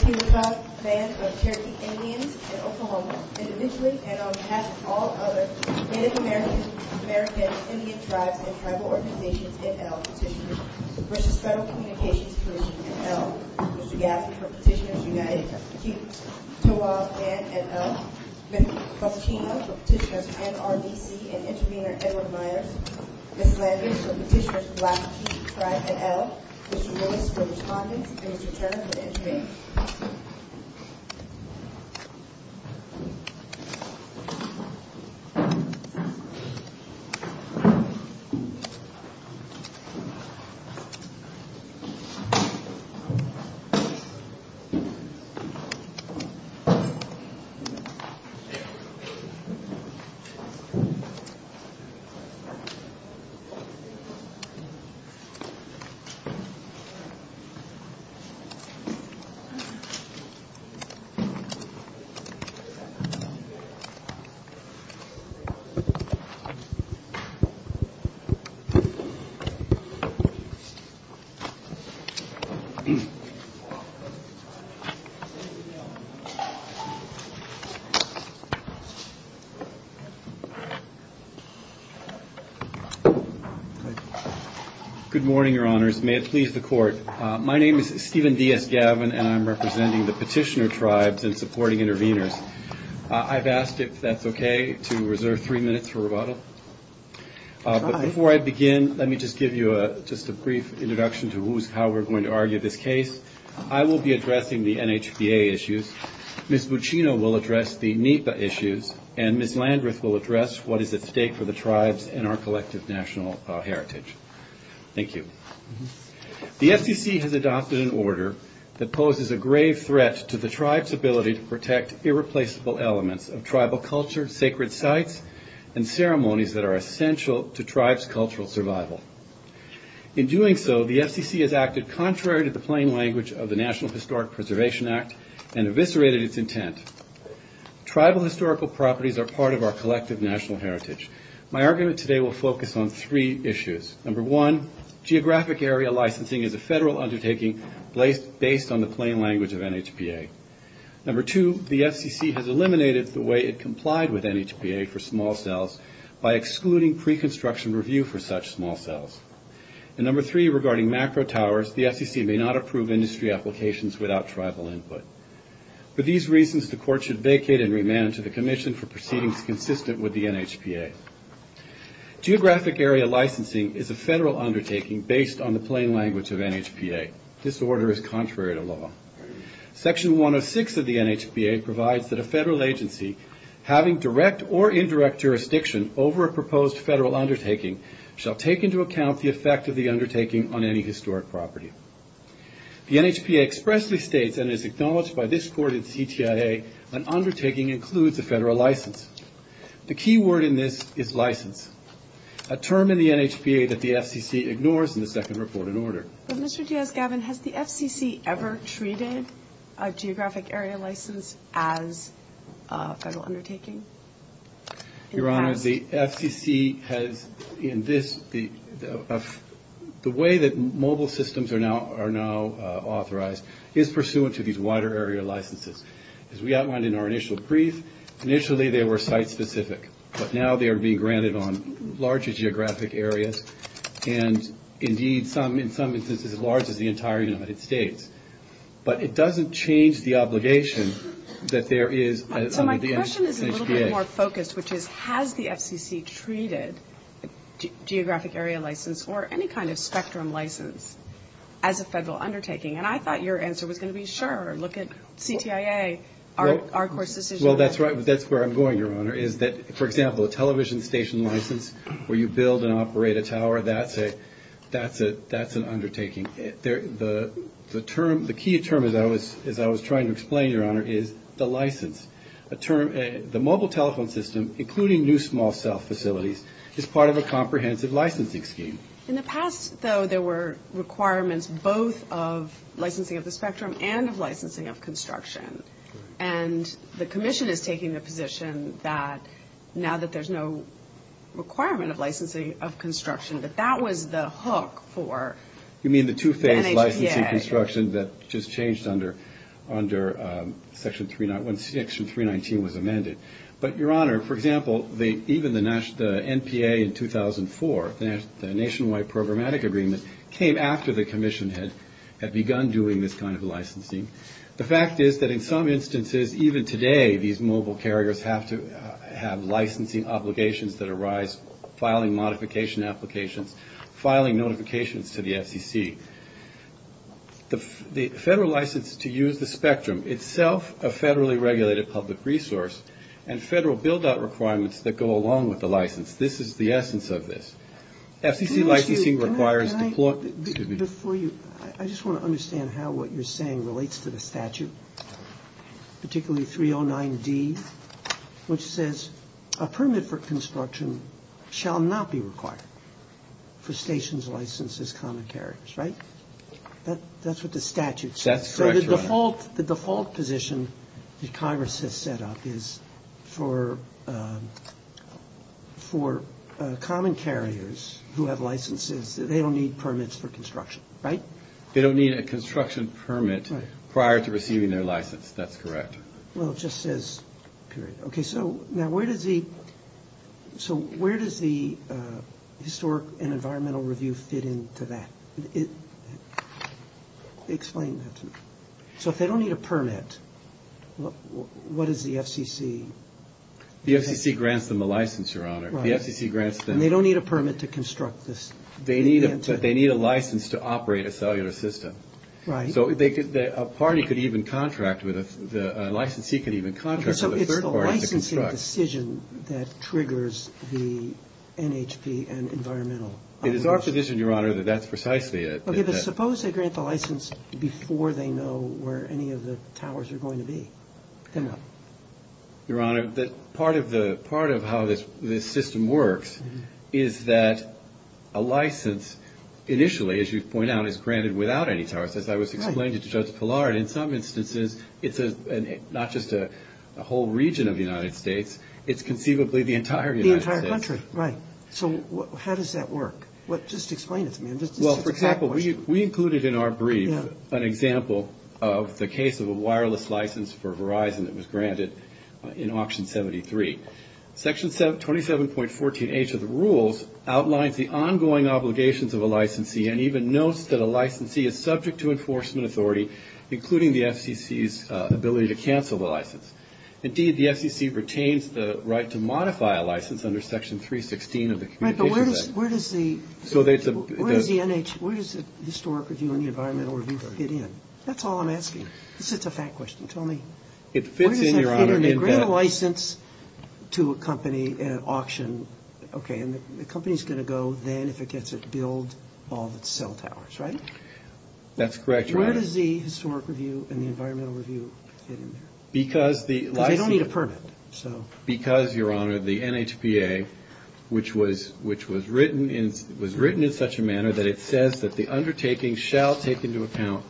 Keetoowah Band of Cherokee Indians in Oklahoma, individually and on behalf of all other Native Americans Indian Tribes and Tribal Organizations, NRDC, and Intervener Edward Myers, Lassie, Frank, and Elle. These names were the targets of the Cherokee Indians. Good morning, Your Honors. May it please the Court. My name is Stephen V.S. Gavin, and I'm representing the Petitioner Tribes and supporting Interveners. I've asked if that's okay to reserve three minutes for rebuttal. Before I begin, let me just give you a brief introduction to how we're going to argue this case. I will be addressing the NHPA issues. Ms. Buccino will address the NEPA issues, and Ms. Landreth will address what is at stake for the tribes and our collective national heritage. Thank you. The FCC has adopted an order that poses a grave threat to the tribes' ability to protect irreplaceable elements of tribal culture, sacred sites, and ceremonies that are essential to tribes' cultural survival. In doing so, the FCC has acted contrary to the plain language of the National Historic Preservation Act and eviscerated its intent. Tribal historical properties are part of our collective national heritage. My argument today will focus on three issues. Number one, geographic area licensing is a federal undertaking based on the plain language of NHPA. Number two, the FCC has eliminated the way it complied with NHPA for small cells by excluding pre-construction review for such small cells. And number three, regarding macro towers, the FCC may not approve industry applications without tribal input. For these reasons, the court should vacate and remand to the commission for proceedings consistent with the NHPA. Geographic area licensing is a federal undertaking based on the plain language of NHPA. This order is contrary to law. Section 106 of the NHPA provides that a federal agency having direct or indirect jurisdiction over a proposed federal undertaking shall take into account the effect of the undertaking on any historic property. The NHPA expressly states, and is acknowledged by this court in CTIA, an undertaking includes a federal license. The key word in this is license, a term in the NHPA that the FCC ignores in the second report in order. Mr. Gavin, has the FCC ever treated a geographic area license as a federal undertaking? Your Honor, the FCC has in this, the way that mobile systems are now authorized is pursuant to these wider area licenses. As we outlined in our initial brief, initially they were site-specific, but now they are being granted on larger geographic areas, and indeed, in some instances, as large as the entire United States. But it doesn't change the obligation that there is an NHPA. The question is a little bit more focused, which is, has the FCC treated geographic area license or any kind of spectrum license as a federal undertaking? And I thought your answer was going to be, sure, look at CTIA. Well, that's right. That's where I'm going, Your Honor, is that, for example, a television station license where you build and operate a tower, that's an undertaking. The key term, as I was trying to explain, Your Honor, is the license. The mobile telephone system, including new small cell facilities, is part of a comprehensive licensing scheme. In the past, though, there were requirements both of licensing of the spectrum and of licensing of construction. And the Commission is taking the position that now that there's no requirement of licensing of construction, that that was the hook for... You mean the two-phase licensing construction that just changed under Section 319 was amended. But, Your Honor, for example, even the NPA in 2004, the Nationwide Programmatic Agreement, came after the Commission had begun doing this kind of licensing. The fact is that in some instances, even today, these mobile carriers have to have licensing obligations that arise, filing modification applications, filing notifications to the FCC. The federal license to use the spectrum, itself a federally regulated public resource, and federal build-out requirements that go along with the license. This is the essence of this. I just want to understand how what you're saying relates to the statute, particularly 309D, which says a permit for construction shall not be required for stations licensed as common carriers, right? That's what the statute says. The default position that Congress has set up is for common carriers who have licenses, they don't need permits for construction, right? They don't need a construction permit prior to receiving their license. That's correct. Well, it just says, period. Okay, so now where does the Historic and Environmental Review fit into that? Explain that to me. So, if they don't need a permit, what does the FCC... The FCC grants them a license, Your Honor. Right. The FCC grants them... And they don't need a permit to construct this. They need a license to operate a cellular system. Right. So, a party could even contract with a... A licensee could even contract with a third party to construct. So, it's the licensing decision that triggers the NHP and environmental... It is our position, Your Honor, that that's precisely it. Okay, but suppose they grant the license before they know where any of the towers are going to be. Come on. Your Honor, part of how this system works is that a license, initially, as you point out, is granted without any tariff. As I was explaining to Judge Pilar, in some instances, it's not just a whole region of the United States, it's conceivably the entire United States. The entire country, right. So, how does that work? Just explain this to me. Well, for example, we included in our brief an example of the case of a wireless license for Verizon that was granted in Auction 73. Section 27.14H of the rules outlines the ongoing obligations of a licensee and even notes that a licensee is subject to enforcement authority, including the FCC's ability to cancel the license. Indeed, the FCC retains the right to modify a license under Section 316 of the Communications Act. Right, but where does the Historic Review and the Environmental Review fit in? That's all I'm asking. This is a fact question. Tell me. It fits in, Your Honor. If they grant a license to a company in an auction, okay, and the company's going to go then if it gets its billed on cell towers, right? That's correct, Your Honor. Where does the Historic Review and the Environmental Review fit in? Because the license... They don't need a permit, so... Because, Your Honor, the NHPA, which was written in such a manner that it says that the undertaking shall take into account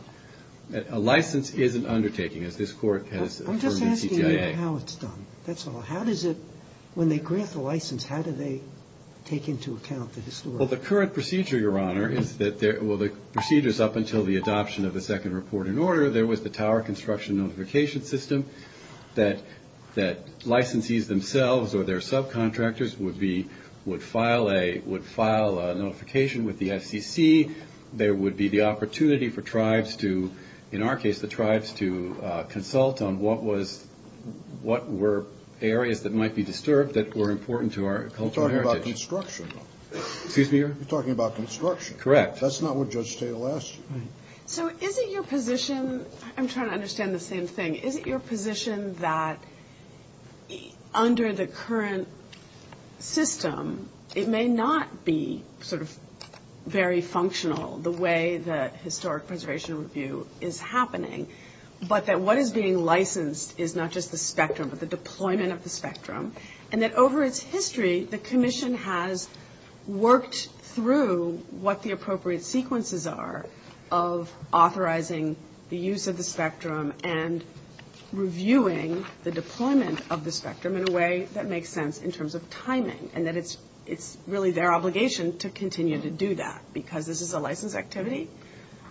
that a license is an undertaking, as this Court has... I'm just asking how it's done. That's all. How does it... When they grant the license, how do they take into account the historic... Well, the current procedure, Your Honor, is that there... Well, the procedure's up until the adoption of the second report in order. There was the tower construction notification system that licensees themselves or their subcontractors would be... would file a notification with the SEC. There would be the opportunity for tribes to... In our case, the tribes to consult on what were areas that might be disturbed that were important to our cultural heritage. You're talking about construction. Excuse me, Your Honor. You're talking about construction. Correct. That's not what Judge Stata asked. So, is it your position... I'm trying to understand the same thing. Is it your position that under the current system, it may not be sort of very functional, the way that Historic Preservation Review is happening, but that what is being licensed is not just the spectrum, but the deployment of the spectrum, and that over its history, the Commission has worked through what the appropriate sequences are of authorizing the use of the spectrum and reviewing the deployment of the spectrum in a way that makes sense in terms of timing, and that it's really their obligation to continue to do that because this is a licensed activity?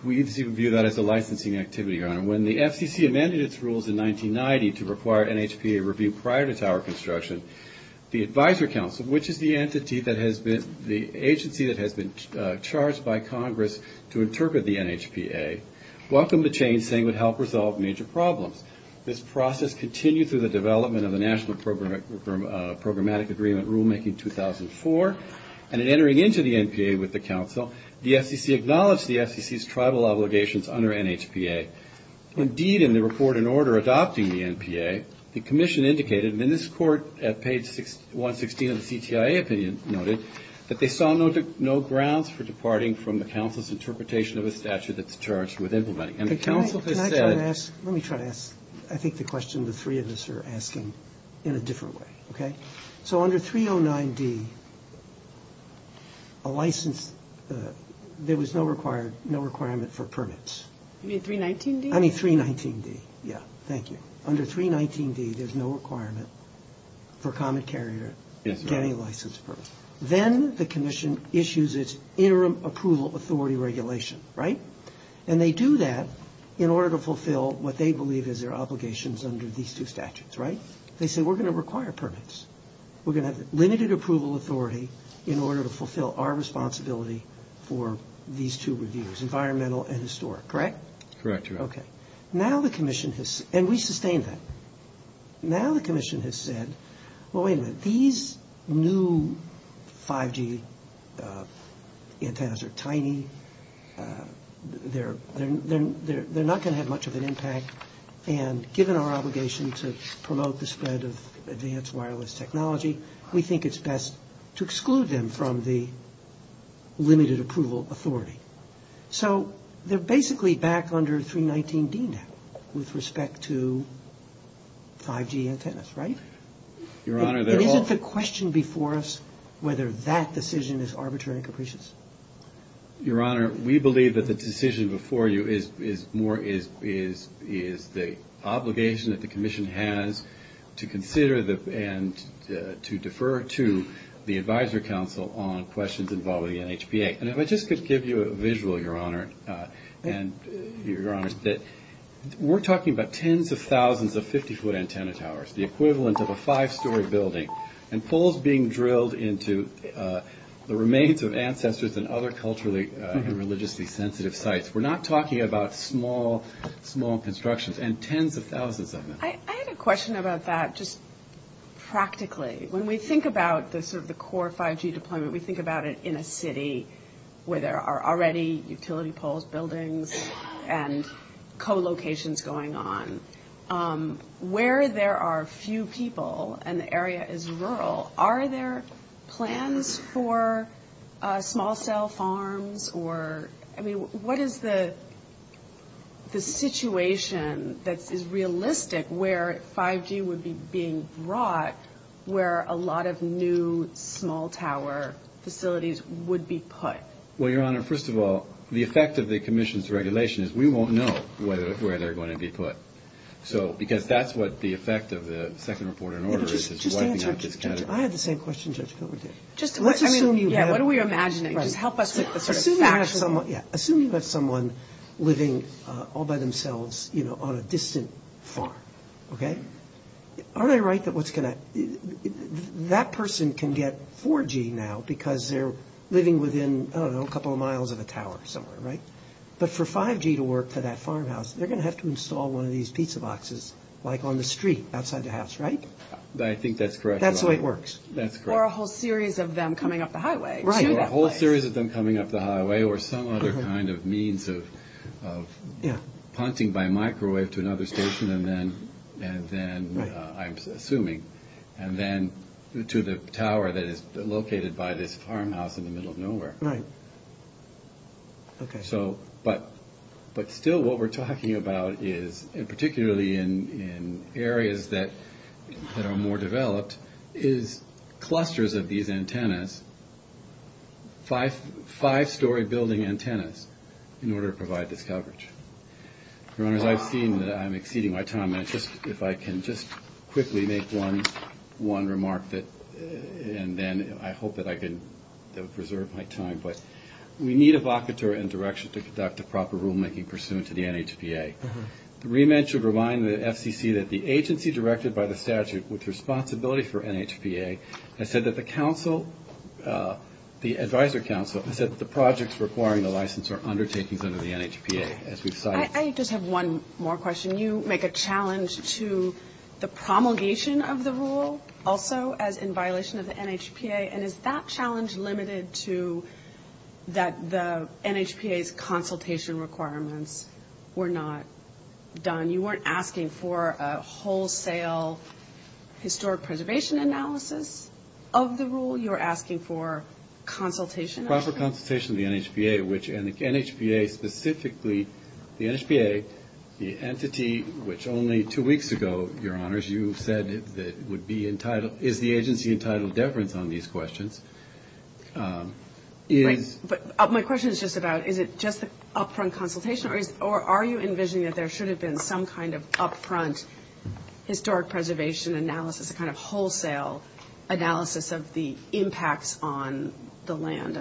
When the FCC amended its rules in 1990 to require NHPA review prior to tower construction, the Advisory Council, which is the entity that has been... the agency that has been charged by Congress to interpret the NHPA, welcomed the change, saying it would help resolve major problems. This process continued through the development of the National Programmatic Agreement Rulemaking 2004, and in entering into the NPA with the Council, the FCC acknowledged the FCC's tribal obligations under NHPA. Indeed, in the report in order adopting the NPA, the Commission indicated, and this report at page 116 of the CTIA opinion noted, that they saw no grounds for departing from the Council's interpretation of a statute that the charge was implementing. And the Council has said... Let me try to ask, I think, the question the three of us are asking in a different way, okay? So under 309-D, a license... There was no requirement for permits. You mean 319-D? I mean 319-D, yeah, thank you. Under 319-D, there's no requirement for common carrier getting a license permit. Then the Commission issues its Interim Approval Authority Regulation, right? And they do that in order to fulfill what they believe is their obligations under these two statutes, right? They say, we're going to require permits. We're going to have limited approval authority in order to fulfill our responsibility for these two reviews, environmental and historic, correct? Correct. Okay. Now the Commission has... And we sustain that. Now the Commission has said, well, wait a minute, these new 5G antennas are tiny. They're not going to have much of an impact. And given our obligation to promote the spread of advanced wireless technology, we think it's best to exclude them from the limited approval authority. So they're basically back under 319-D now with respect to 5G antennas, right? Your Honor, they're all... It isn't the question before us whether that decision is arbitrary and capricious. Your Honor, we believe that the decision before you is more... Is the obligation that the Commission has to consider and to defer to the Advisory Council on questions involving NHPA. And if I just could give you a visual, Your Honor, that we're talking about tens of thousands of 50-foot antenna towers, the equivalent of a five-story building. And poles being drilled into the remains of ancestors and other culturally and religiously sensitive sites. We're not talking about small, small constructions and tens of thousands of them. I have a question about that just practically. When we think about the core 5G deployment, we think about it in a city where there are already utility poles, buildings, and co-locations going on. Where there are few people and the area is rural, are there plans for small cell farms or... I mean, what is the situation that is realistic where 5G would be being brought where a lot of new small tower facilities would be put? Well, Your Honor, first of all, the effect of the Commission's regulation is we won't know where they're going to be put. So, because that's what the effect of the second report in order is. I have the same question. What do we imagine? Assuming you have someone living all by themselves, you know, on a distant farm, okay? Are they right that what's going to... That person can get 4G now because they're living within, I don't know, a couple of miles of a tower somewhere, right? But for 5G to work for that farmhouse, they're going to have to install one of these pizza boxes like on the street outside the house, right? I think that's correct. That's the way it works. Or a whole series of them coming up the highway. Right. Or a whole series of them coming up the highway or some other kind of means of haunting by microwave to another station and then, I'm assuming, and then to the tower that is located by this farmhouse in the middle of nowhere. Right. Okay. So, but still what we're talking about is, and particularly in areas that are more developed, is clusters of these antennas, five-story building antennas in order to provide this coverage. As I've seen, I'm exceeding my time. If I can just quickly make one remark and then I hope that I can preserve my time. But we need a vocateur and direction to conduct a proper rulemaking pursuant to the NHPA. The remit should remind the FCC that the agency directed by the statute with responsibility for NHPA has said that the council, the advisor council, has said that the projects requiring the license are undertakings under the NHPA. I just have one more question. You make a challenge to the promulgation of the rule also in violation of the NHPA. And is that challenge limited to that the NHPA's consultation requirements were not done? You weren't asking for a wholesale historic preservation analysis of the rule. You were asking for consultation. For consultation of the NHPA, which NHPA specifically, the NHPA, the entity, which only two weeks ago, Your Honors, you said that it would be entitled, is the agency entitled deference on these questions? My question is just about is it just an upfront consultation or are you envisioning that there should have been some kind of upfront historic preservation analysis, a kind of wholesale analysis of the impacts on the land?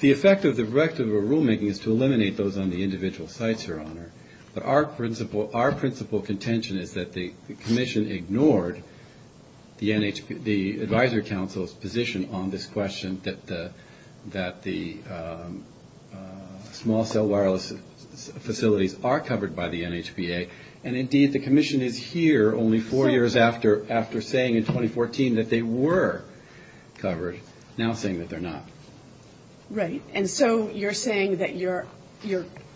The effect of the directive of rulemaking is to eliminate those on the individual sites, Your Honor. Our principal contention is that the commission ignored the advisor council's position on this question that the small cell wireless facilities are covered by the NHPA. And, indeed, the commission is here only four years after saying in 2014 that they were covered, now saying that they're not. Right. And so you're saying that your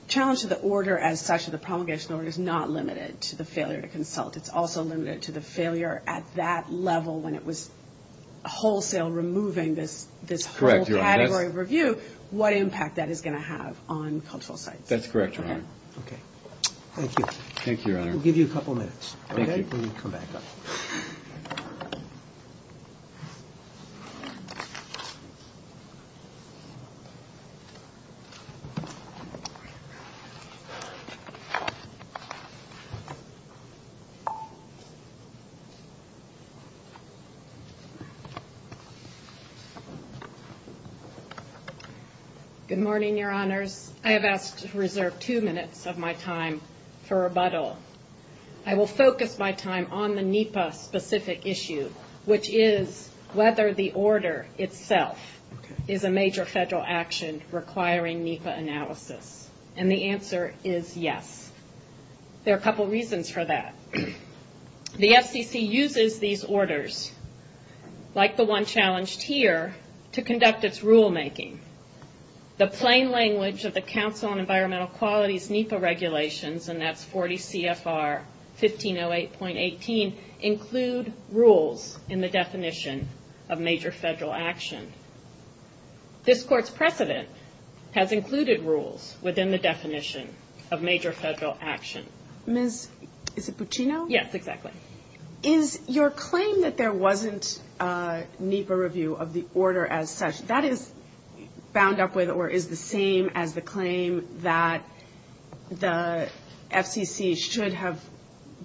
challenge to the order as such, the promulgation order, is not limited to the failure to consult. It's also limited to the failure at that level when it was wholesale removing this whole category of review, what impact that is going to have on postal sites. That's correct, Your Honor. Okay. Thank you. Thank you, Your Honor. I'll give you a couple minutes. Thank you. We'll come back up. Good morning, Your Honors. I have asked to reserve two minutes of my time for rebuttal. I will focus my time on the NHPA-specific issue, which is whether the order itself is a major federal action requiring NHPA analysis. And the answer is yes. There are a couple reasons for that. The FCC uses these orders, like the one challenged here, to conduct its rulemaking. The plain language of the Council on Environmental Quality's NHPA regulations, and that's 40 CFR 1508.18, include rules in the definition of major federal action. This Court's precedent has included rules within the definition of major federal action. Is it Puccino? Yes, exactly. Is your claim that there wasn't NHPA review of the order as such, that is bound up with or is the same as the claim that the FCC should have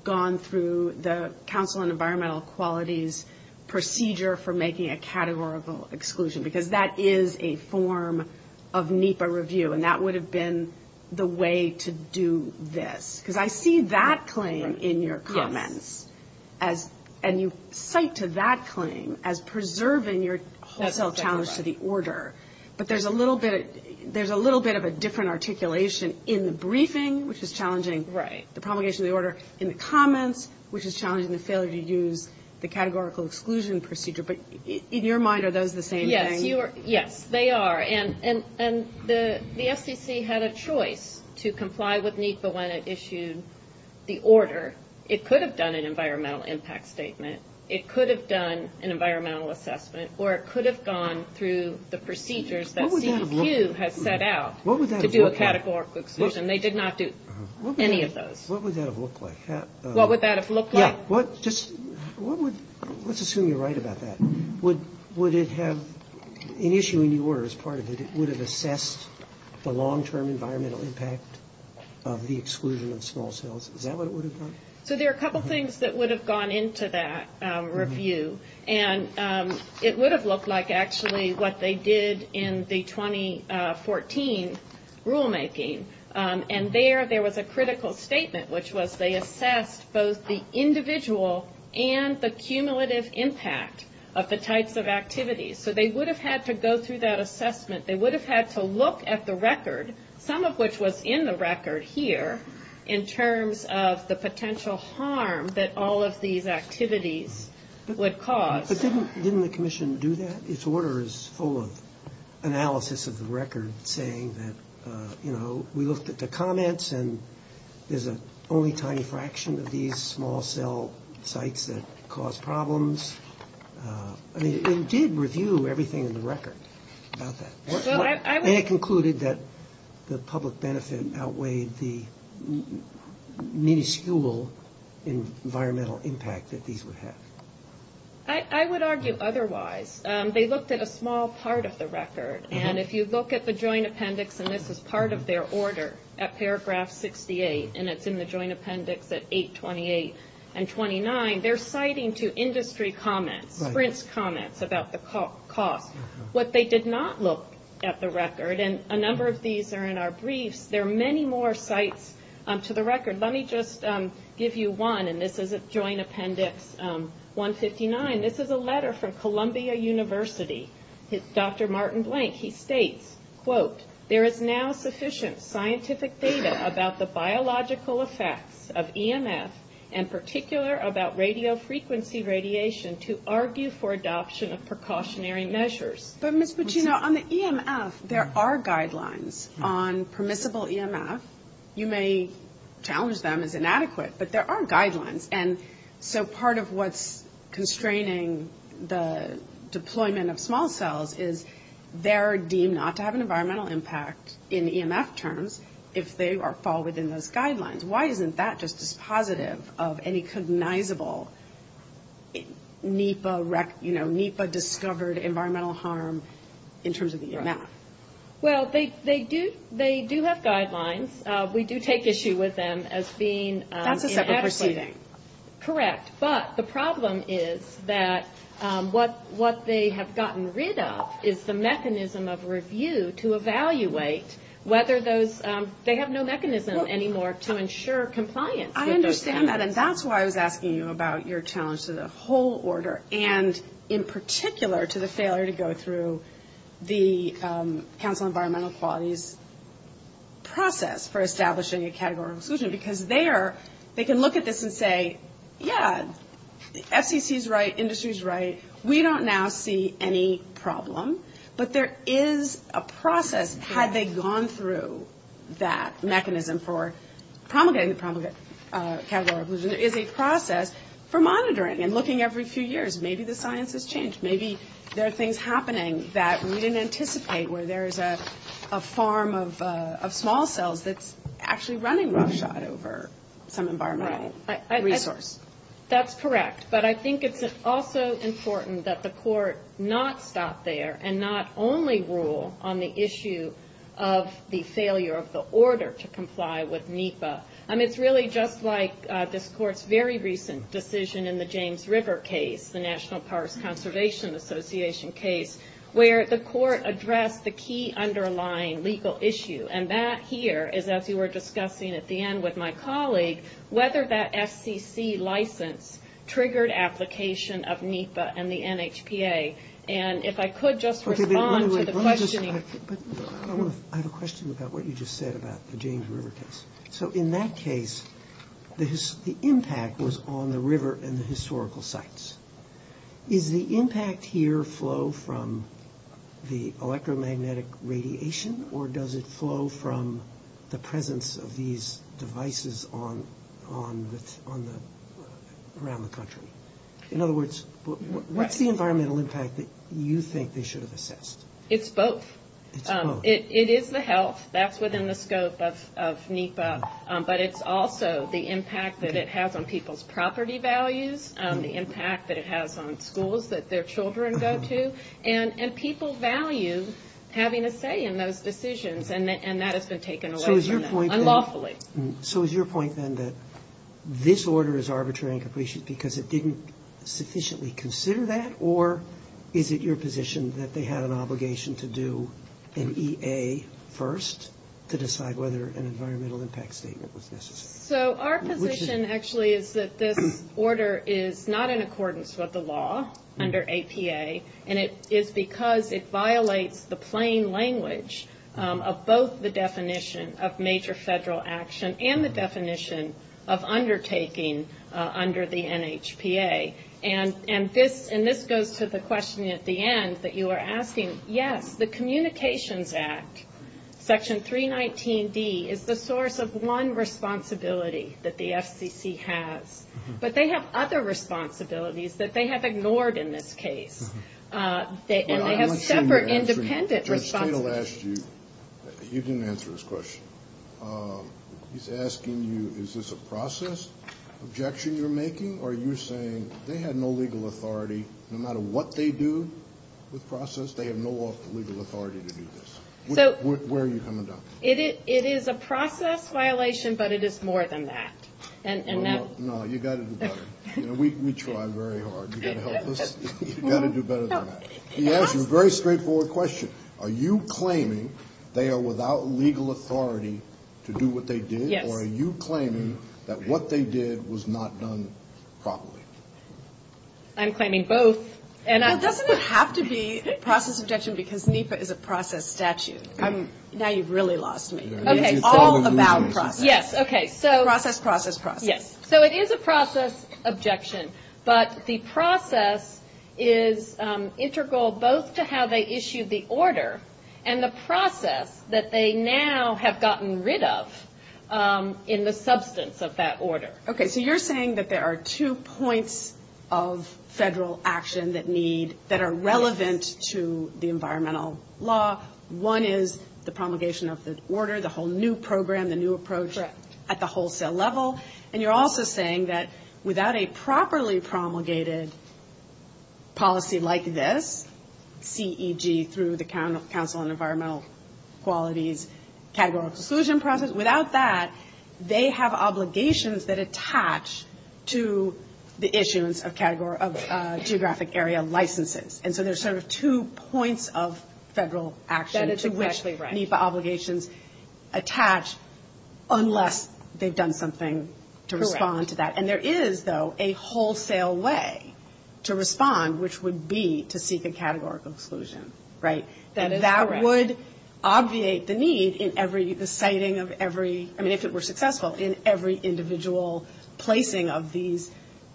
gone through the Council on Environmental Quality's procedure for making a categorical exclusion? Because that is a form of NHPA review, and that would have been the way to do this. Because I see that claim in your comments, and you cite to that claim as preserving your self-challenge to the order. But there's a little bit of a different articulation in the briefing, which is challenging the promulgation of the order, in the comments, which is challenging the failure to use the categorical exclusion procedure. But in your mind, are those the same things? Yes, they are. And the FCC had a choice to comply with NHPA when it issued the order. It could have done an environmental impact statement. It could have done an environmental assessment, or it could have gone through the procedures that the ECQ has set out to do a categorical exclusion. They did not do any of those. What would that have looked like? What would that have looked like? Let's assume you're right about that. Would it have, initially when you were as part of it, would it have assessed the long-term environmental impact of the exclusion of small cells? Is that what it would have done? So there are a couple things that would have gone into that review. And it would have looked like actually what they did in the 2014 rulemaking. And there, there was a critical statement, which was they assessed both the individual and the cumulative impact of the types of activities. So they would have had to go through that assessment. They would have had to look at the record, some of which was in the record here, in terms of the potential harm that all of these activities would cause. But didn't the commission do that? Its order is full of analysis of the record saying that, you know, we looked at the comments, and there's only a tiny fraction of these small cell sites that cause problems. I mean, it did review everything in the record about that. And it concluded that the public benefit outweighed the minuscule environmental impact that these would have. I would argue otherwise. They looked at a small part of the record. And if you look at the joint appendix, and this is part of their order at paragraph 68, and it's in the joint appendix at 828 and 29, they're citing to industry comments, print comments about the costs. What they did not look at the record, and a number of these are in our briefs, there are many more sites to the record. And let me just give you one, and this is a joint appendix 159. This is a letter from Columbia University. It's Dr. Martin Blank. He states, quote, there is now sufficient scientific data about the biological effects of EMS, and particular about radiofrequency radiation to argue for adoption of precautionary measures. But, Ms. Pacino, on the EMS, there are guidelines on permissible EMS. You may challenge them as inadequate, but there are guidelines. And so part of what's constraining the deployment of small cells is they're deemed not to have an environmental impact in EMS terms if they are followed in those guidelines. Why isn't that just as positive of any cognizable NEPA-discovered environmental harm in terms of the EMS? Well, they do have guidelines. We do take issue with them as being inadequate. That's a separate proceeding. Correct. But the problem is that what they have gotten rid of is the mechanism of review to evaluate whether those they have no mechanism anymore to ensure compliance with those guidelines. I understand that, and that's why I was asking you about your challenge to the whole order, and in particular to the failure to go through the Council on Environmental Quality's process for establishing a category of inclusion, because they can look at this and say, yes, the FCC is right, industry is right, we don't now see any problem, but there is a process had they gone through that mechanism for promulgating the category of inclusion. And there is a process for monitoring and looking every few years. Maybe the science has changed. Maybe there are things happening that we didn't anticipate where there is a farm of small cells that's actually running roughshod over some environmental resource. That's correct, but I think it's also important that the court not stop there and not only rule on the issue of the failure of the order to comply with NEPA. And it's really just like this court's very recent decision in the James River case, the National Parks Conservation Association case, where the court addressed the key underlying legal issue. And that here is, as we were discussing at the end with my colleague, whether that FCC license triggered application of NEPA and the NHPA. And if I could just respond to the question. I have a question about what you just said about the James River case. So in that case, the impact was on the river and the historical sites. Is the impact here flow from the electromagnetic radiation or does it flow from the presence of these devices around the country? In other words, what's the environmental impact that you think they should have assessed? It's both. It's both. It is the health. That's within the scope of NEPA. But it's also the impact that it has on people's property values, the impact that it has on schools that their children go to, and people's values having a say in those decisions. And that has been taken away from them unlawfully. So is your point then that this order is arbitrary and capricious because it didn't sufficiently consider that? Or is it your position that they have an obligation to do an EA first to decide whether an environmental impact statement was necessary? So our position actually is that this order is not in accordance with the law under APA, and it's because it violates the plain language of both the definition of major federal action and the definition of undertaking under the NHPA. Okay. And this goes to the question at the end that you were asking. Yes, the Communications Act, Section 319D, is the source of one responsibility that the FCC has. But they have other responsibilities that they have ignored in this case. And they have separate independent responsibilities. I want to ask you, you didn't answer his question. He's asking you, is this a process objection you're making, or are you saying they have no legal authority, no matter what they do with process, they have no legal authority to do this? Where are you coming from? It is a process violation, but it is more than that. No, you've got to do better. We try very hard. You're going to help us? You've got to do better than that. He asked you a very straightforward question. Are you claiming they are without legal authority to do what they did, or are you claiming that what they did was not done properly? I'm claiming both. And it doesn't have to be a process objection because NHPA is a process statute. Now you've really lost me. Okay, all about process. Yes, okay. Process, process, process. Yes. So it is a process objection. But the process is integral both to how they issue the order and the process that they now have gotten rid of in the substance of that order. Okay, so you're saying that there are two points of federal action that need that are relevant to the environmental law. One is the promulgation of this order, the whole new program, the new approach at the wholesale level. And you're also saying that without a properly promulgated policy like this, CEG through the Council on Environmental Quality's categorical exclusion process, without that they have obligations that attach to the issues of geographic area licenses. And so there's sort of two points of federal action to which NHPA obligations attach unless they've done something to respond to that. Correct. And there is, though, a wholesale way to respond, which would be to seek a categorical exclusion, right? That is correct. That would obviate the need in every, the citing of every, I mean, if it were successful, in every individual placing of these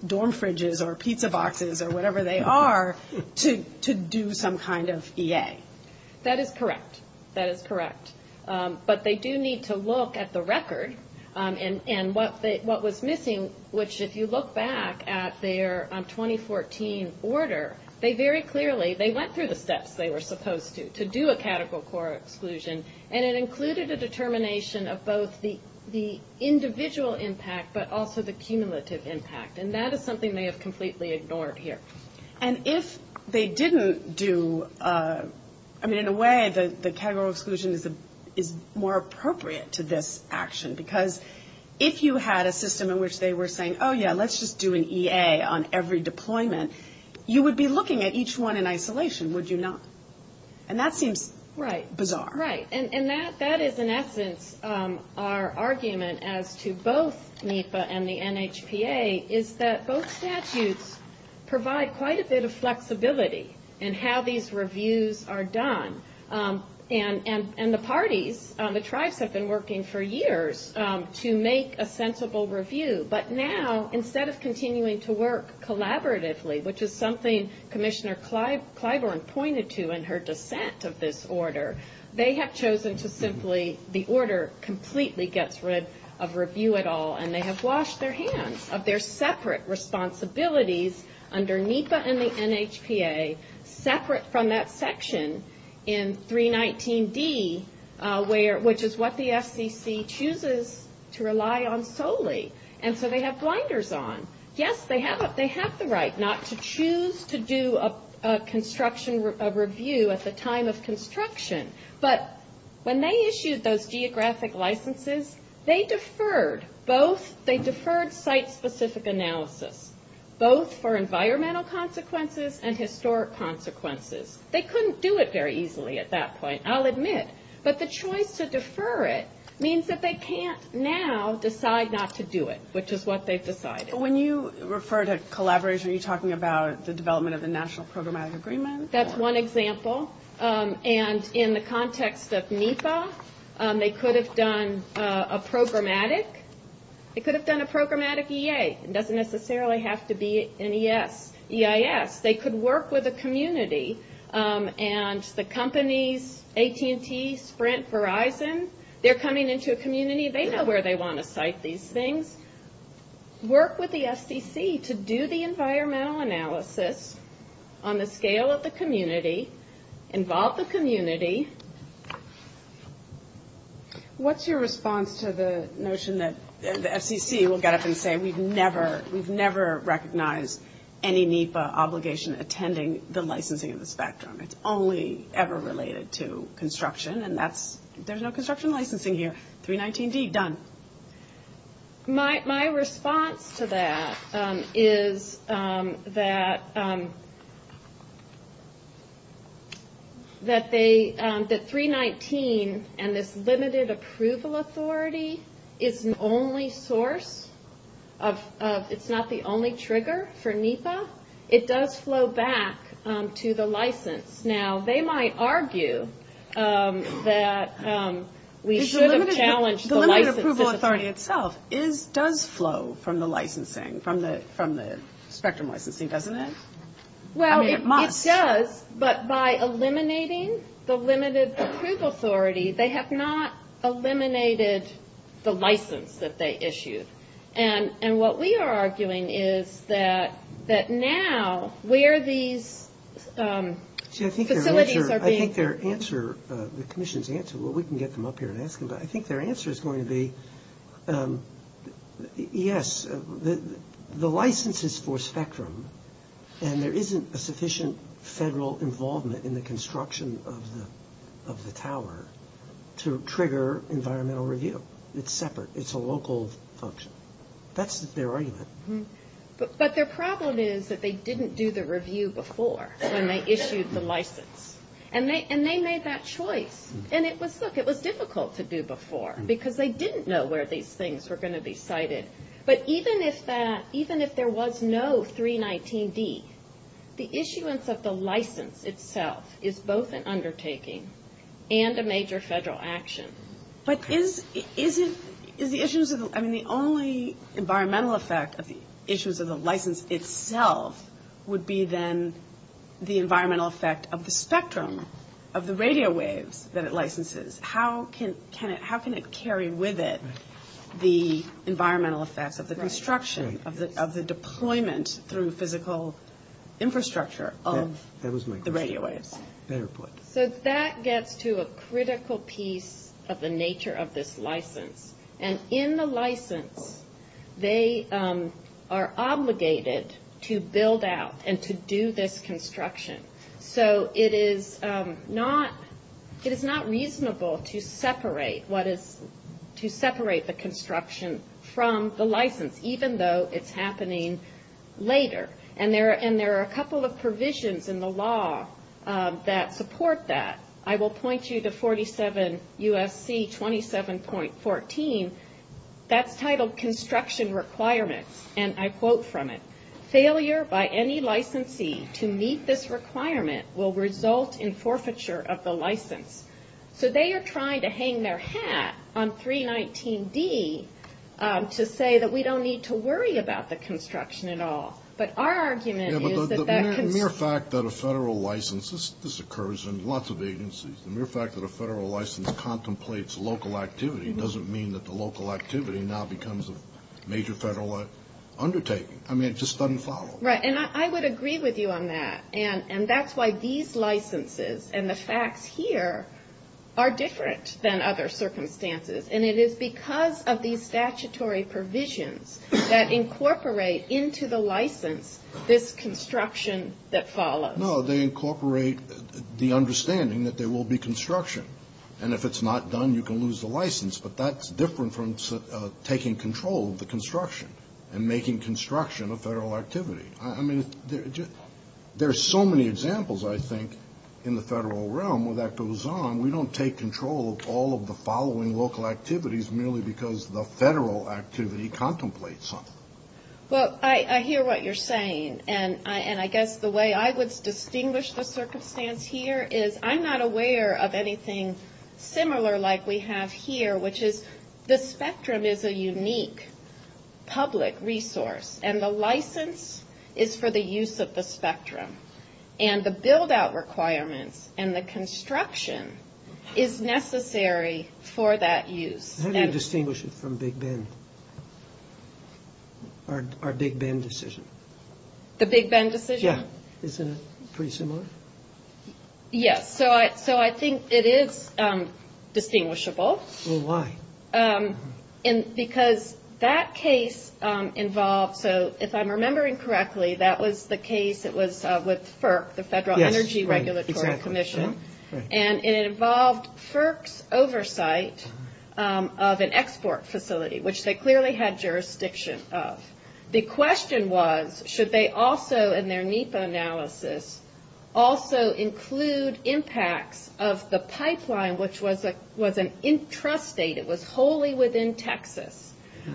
dorm fridges or pizza boxes or whatever they are to do some kind of EA. That is correct. That is correct. But they do need to look at the record and what was missing, which if you look back at their 2014 order, they very clearly, they went through the steps they were supposed to do a categorical exclusion. And it included a determination of both the individual impact but also the cumulative impact. And that is something they have completely ignored here. And if they didn't do, I mean, in a way, the categorical exclusion is more appropriate to this action because if you had a system in which they were saying, oh, yeah, let's just do an EA on every deployment, you would be looking at each one in isolation, would you not? And that seems bizarre. Right. And that is, in essence, our argument as to both NIFA and the NHPA is that both statutes provide quite a bit of flexibility in how these reviews are done. And the parties, the tribes have been working for years to make a sensible review. But now, instead of continuing to work collaboratively, which is something Commissioner Clyburn pointed to in her defense of this order, they have chosen to simply, the order completely gets rid of review at all and they have washed their hands of their separate responsibilities under NIFA and the NHPA separate from that section in 319D, which is what the FCC chooses to rely on solely. And so they have blinders on. Yes, they have the right not to choose to do a review at the time of construction. But when they issued those geographic licenses, they deferred both, they deferred site-specific analysis, both for environmental consequences and historic consequences. They couldn't do it very easily at that point, I'll admit. But the choice to defer it means that they can't now decide not to do it, which is what they've decided. When you refer to collaboration, are you talking about the development of a national programmatic agreement? That's one example. And in the context of NIFA, they could have done a programmatic. They could have done a programmatic EA. It doesn't necessarily have to be an EIS. They could work with a community. And the companies, AT&T, Sprint, Verizon, they're coming into a community. They know where they want to site these things. Work with the SEC to do the environmental analysis on the scale of the community. Involve the community. What's your response to the notion that the SEC will get up and say, we've never recognized any NIFA obligation attending the licensing of the spectrum? It's only ever related to construction, and that's, there's no construction licensing here. 319D, done. My response to that is that 319 and this limited approval authority is the only source of, it's not the only trigger for NIFA. It does flow back to the license. Now, they might argue that we should have challenged the license. The limited approval authority itself does flow from the licensing, from the spectrum licensing, doesn't it? Well, it does, but by eliminating the limited approval authority, they have not eliminated the license that they issued. And what we are arguing is that now, where these facilities are being- See, I think their answer, the commission's answer, well, we can get them up here and ask them, but I think their answer is going to be, yes, the license is for spectrum, and there isn't a sufficient federal involvement in the construction of the tower to trigger environmental review. It's separate. It's a local function. That's their argument. But their problem is that they didn't do the review before when they issued the license, and they made that choice, and it was, look, it was difficult to do before because they didn't know where these things were going to be cited. But even if that, even if there was no 319D, the issuance of the license itself is both an undertaking and a major federal action. But is the issuance of the- I mean, the only environmental effect of the issuance of the license itself would be then the environmental effect of the spectrum of the radio wave that it licenses. How can it carry with it the environmental effect of the construction, of the deployment through physical infrastructure of the radio wave? So that gets to a critical piece of the nature of this license. And in the license, they are obligated to build out and to do this construction. So it is not reasonable to separate what is, to separate the construction from the license, even though it's happening later. And there are a couple of provisions in the law that support that. I will point you to 47 U.S.C. 27.14. That's titled Construction Requirements, and I quote from it. Failure by any licensee to meet this requirement will result in forfeiture of the license. So they are trying to hang their hat on 319D to say that we don't need to worry about the construction at all. But our argument is that that can... The mere fact that a federal license, this occurs in lots of agencies, the mere fact that a federal license contemplates local activity doesn't mean that the local activity now becomes a major federal undertaking. I mean, it just doesn't follow. Right, and I would agree with you on that. And that's why these licenses and the fact here are different than other circumstances. And it is because of these statutory provisions that incorporate into the license this construction that follows. No, they incorporate the understanding that there will be construction. And if it's not done, you can lose the license. But that's different from taking control of the construction and making construction a federal activity. I mean, there are so many examples, I think, in the federal realm where that goes on. We don't take control of all of the following local activities merely because the federal activity contemplates some. Well, I hear what you're saying. And I guess the way I would distinguish the circumstance here is I'm not aware of anything similar like we have here, which is the spectrum is a unique public resource. And the license is for the use of the spectrum. And the build-out requirements and the construction is necessary for that use. How do you distinguish it from Big Ben or Big Ben decision? The Big Ben decision? Yeah. Isn't it pretty similar? Yes. So I think it is distinguishable. Well, why? Because that case involved, if I'm remembering correctly, that was the case with FERC, the Federal Energy Regulatory Commission, and it involved FERC's oversight of an export facility, which they clearly had jurisdiction of. The question was, should they also, in their NEPA analysis, also include impacts of the pipeline, which was an intrastate. It was wholly within Texas.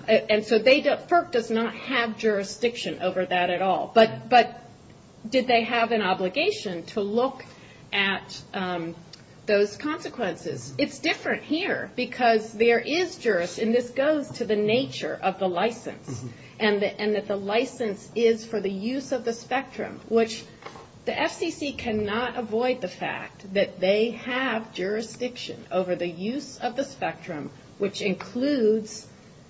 And so FERC does not have jurisdiction over that at all. But did they have an obligation to look at those consequences? It's different here because there is jurisdiction. And this goes to the nature of the license and that the license is for the use of the spectrum, which the FCC cannot avoid the fact that they have jurisdiction over the use of the spectrum, which includes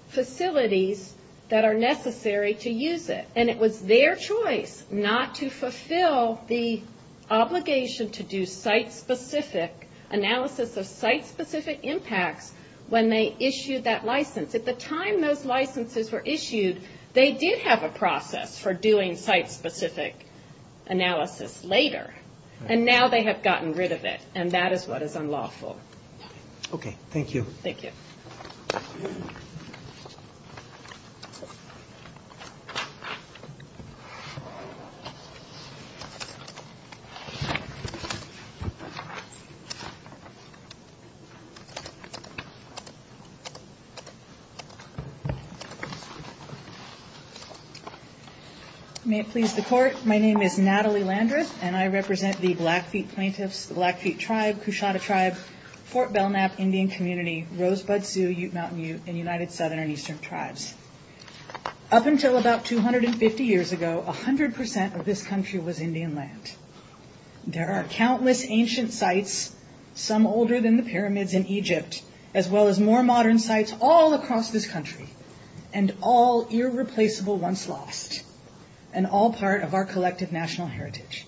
facilities that are necessary to use it. And it was their choice not to fulfill the obligation to do site-specific analysis of site-specific impacts when they issued that license. At the time those licenses were issued, they did have a process for doing site-specific analysis later. And now they have gotten rid of it, and that is what is unlawful. Okay. Thank you. Thank you. Thank you. May it please the Court, my name is Natalie Landris, and I represent the Blackfeet Plaintiffs, the Blackfeet Tribe, Kushana Tribes, Fort Belknap Indian Community, Rosebud Sioux, Ute Mountain Ute, and United Southern and Eastern Tribes. Up until about 250 years ago, 100% of this country was Indian land. There are countless ancient sites, some older than the pyramids in Egypt, as well as more modern sites all across this country, and all irreplaceable once lost, and all part of our collective national heritage.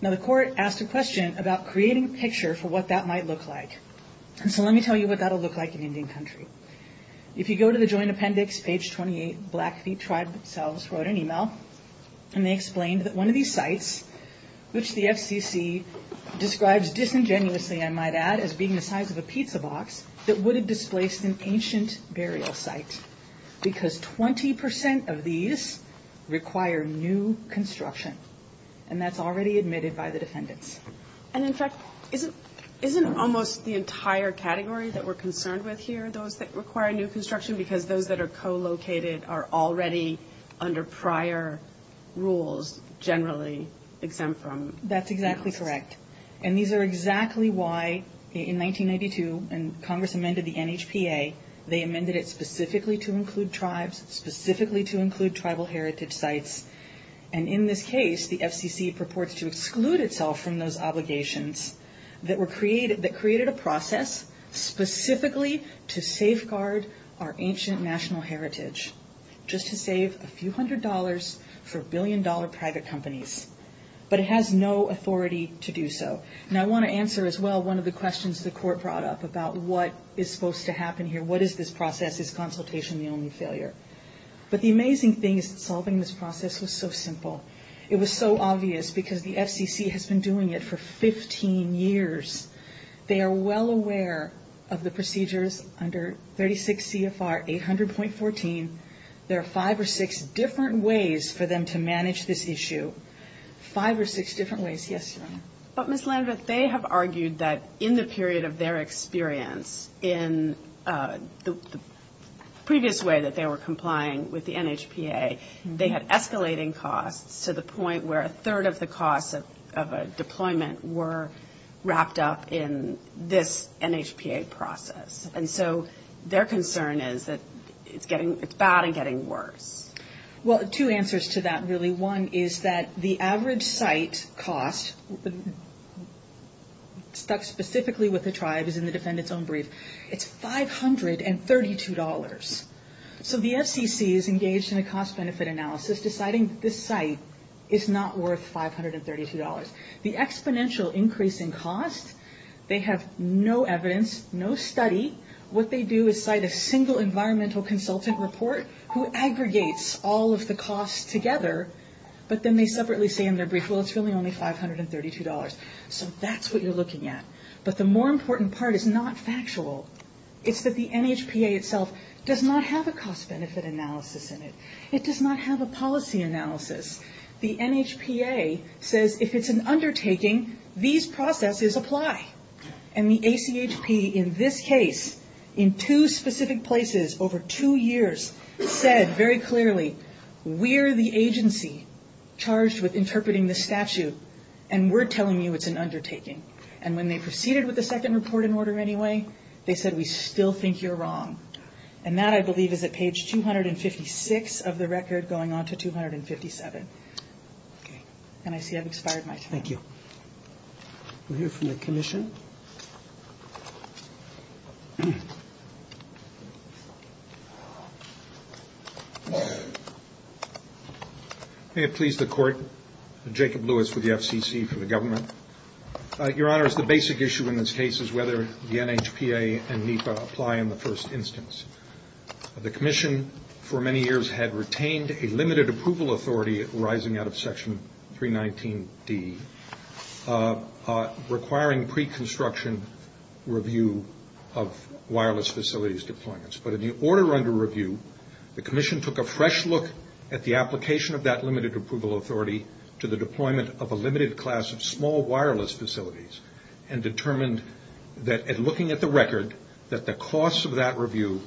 Now the Court asked a question about creating a picture for what that might look like. And so let me tell you what that will look like in Indian country. If you go to the Joint Appendix, page 28, Blackfeet Tribes themselves wrote an email, and they explained that one of these sites, which the FCC describes disingenuously, I might add, as being the size of a pizza box, that would have displaced an ancient burial site, because 20% of these require new construction. And that's already admitted by the defendants. And in fact, isn't almost the entire category that we're concerned with here, those that require new construction, because those that are co-located are already under prior rules, generally exempt from... That's exactly correct. And these are exactly why, in 1992, when Congress amended the NHPA, they amended it specifically to include tribes, specifically to include tribal heritage sites. And in this case, the FCC purports to exclude itself from those obligations that created a process specifically to safeguard our ancient national heritage, just to save a few hundred dollars for billion-dollar private companies. But it has no authority to do so. Now, I want to answer as well one of the questions the court brought up about what is supposed to happen here. What is this process? Is consultation the only failure? But the amazing thing is solving this process was so simple. It was so obvious because the FCC has been doing it for 15 years. They are well aware of the procedures under 36 CFR 800.14. There are five or six different ways for them to manage this issue. Five or six different ways. Yes. But, Ms. Landis, they have argued that in the period of their experience, in the previous way that they were complying with the NHPA, they had escalating costs to the point where a third of the costs of a deployment were wrapped up in this NHPA process. And so their concern is that it's bad and getting worse. Well, two answers to that, really. One is that the average site cost stuck specifically with the tribe is in the defendant's own brief. It's $532. So the FCC is engaged in a cost-benefit analysis deciding this site is not worth $532. The exponential increase in cost, they have no evidence, no study. What they do is cite a single environmental consultant report who aggregates all of the costs together, but then they separately say in their brief, well, it's really only $532. So that's what you're looking at. But the more important part is not factual. It's that the NHPA itself does not have a cost-benefit analysis in it. It does not have a policy analysis. The NHPA says if it's an undertaking, these processes apply. And the ACHP in this case, in two specific places over two years, said very clearly we're the agency charged with interpreting the statute, and we're telling you it's an undertaking. And when they proceeded with the second reporting order anyway, they said we still think you're wrong. And that, I believe, is at page 256 of the record going on to 257. And I see I've expired my time. Thank you. We'll hear from the commission. May it please the Court. Jacob Lewis with the FCC for the government. Your Honors, the basic issue in this case is whether the NHPA and NEPA apply in the first instance. The commission for many years had retained a limited approval authority arising out of Section 319D, requiring pre-construction review of wireless facilities deployments. But in the order under review, the commission took a fresh look at the application of that limited approval authority to the deployment of a limited class of small wireless facilities and determined that, looking at the record, that the costs of that review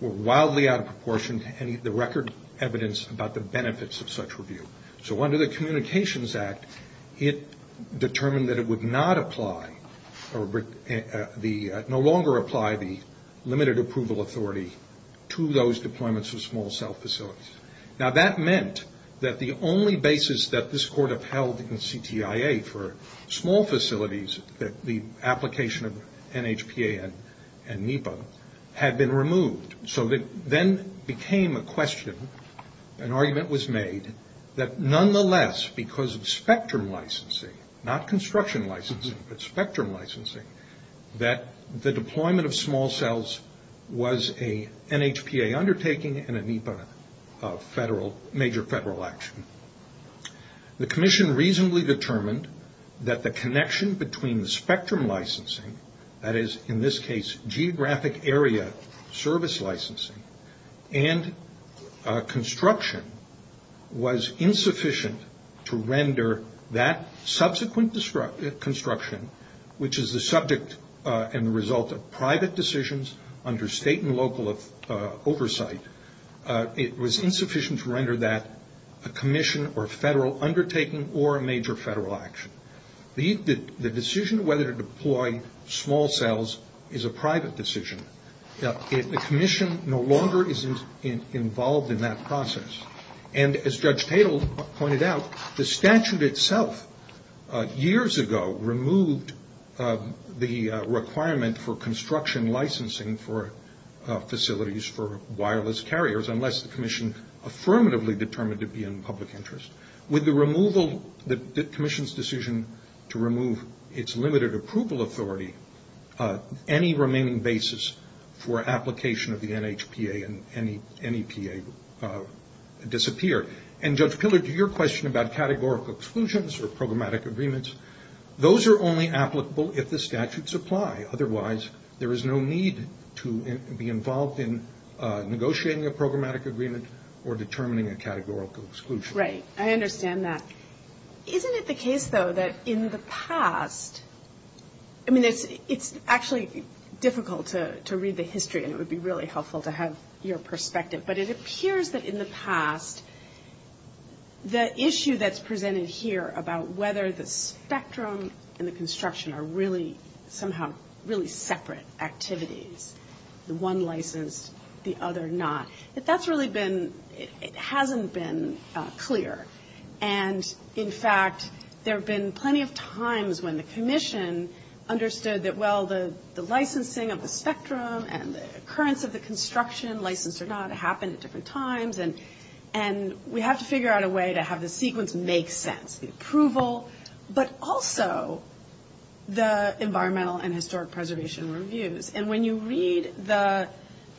were wildly out of proportion to any of the record evidence about the benefits of such review. So under the Communications Act, it determined that it would not apply or no longer apply the limited approval authority to those deployments of small cell facilities. Now, that meant that the only basis that this Court upheld in CTIA for small facilities, the application of NHPA and NEPA, had been removed. So it then became a question, an argument was made, that nonetheless, because of spectrum licensing, not construction licensing, but spectrum licensing, that the deployment of small cells was a NHPA undertaking and a NEPA major federal action. The commission reasonably determined that the connection between the spectrum licensing, that is, in this case, geographic area service licensing, and construction was insufficient to render that subsequent construction, which is the subject and result of private decisions under state and local oversight. It was insufficient to render that a commission or federal undertaking or a major federal action. The decision whether to deploy small cells is a private decision. The commission no longer is involved in that process. And as Judge Tatel pointed out, the statute itself, years ago, removed the requirement for construction licensing for facilities for wireless carriers, unless the commission affirmatively determined to be in public interest. With the removal, the commission's decision to remove its limited approval authority, any remaining basis for application of the NHPA and NEPA disappear. And Judge Pillard, to your question about categorical exclusions or programmatic agreements, those are only applicable if the statutes apply. Otherwise, there is no need to be involved in negotiating a programmatic agreement or determining a categorical exclusion. Right. I understand that. Isn't it the case, though, that in the past, I mean, it's actually difficult to read the history, and it would be really helpful to have your perspective, but it appears that in the past, the issue that's presented here about whether the spectrum and the construction are really, somehow, really separate activities, the one license, the other not, that that's really been, it hasn't been clear. And, in fact, there have been plenty of times when the commission understood that, well, the licensing of the spectrum and the occurrence of the construction license or not happened at different times, and we have to figure out a way to have the sequence make sense, the approval, but also the environmental and historic preservation reviews. And when you read the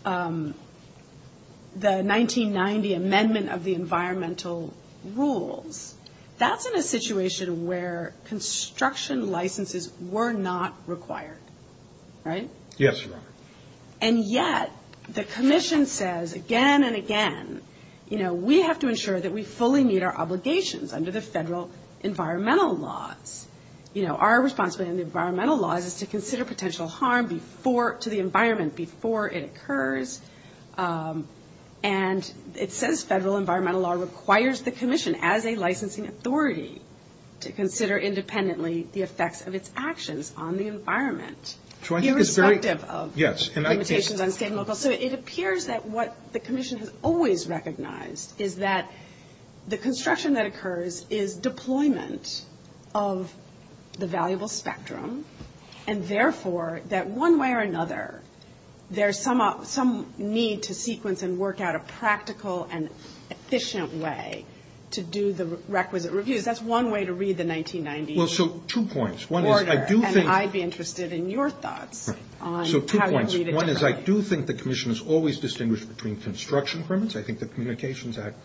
1990 Amendment of the Environmental Rules, that's in a situation where construction licenses were not required. Right? Yes, Your Honor. And yet, the commission says again and again, you know, we have to ensure that we fully meet our obligations under the federal environmental law. You know, our responsibility in the environmental law is to consider potential harm to the environment before it occurs, and it says federal environmental law requires the commission, as a licensing authority, to consider independently the effects of its actions on the environment. So I think it's very- Irrespective of limitations on state and local. So it appears that what the commission has always recognized is that the construction that occurs is deployment of the valuable spectrum, and therefore, that one way or another, there's some need to sequence and work out a practical and efficient way to do the requisite reviews. That's one way to read the 1990 order, and I'd be interested in your thoughts on how to read it. So two points. One is I do think the commission has always distinguished between construction permits. I think the Communications Act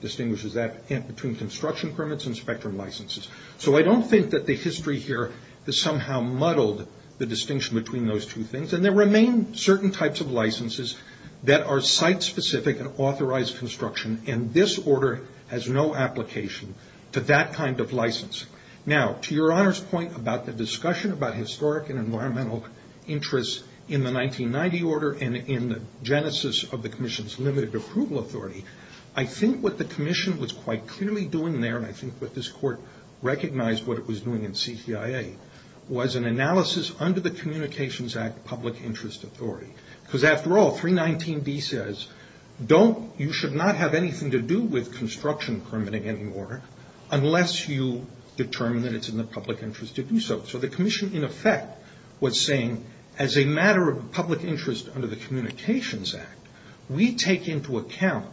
distinguishes that between construction permits and spectrum licenses. So I don't think that the history here has somehow muddled the distinction between those two things, and there remain certain types of licenses that are site-specific and authorized construction, and this order has no application to that kind of license. Now, to Your Honor's point about the discussion about historic and environmental interests in the 1990 order and in the genesis of the commission's limited approval authority, I think what the commission was quite clearly doing there, and I think that this court recognized what it was doing in CCIA, was an analysis under the Communications Act public interest authority. Because after all, 319B says you should not have anything to do with construction permitting anymore unless you determine that it's in the public interest to do so. So the commission, in effect, was saying as a matter of public interest under the Communications Act, we take into account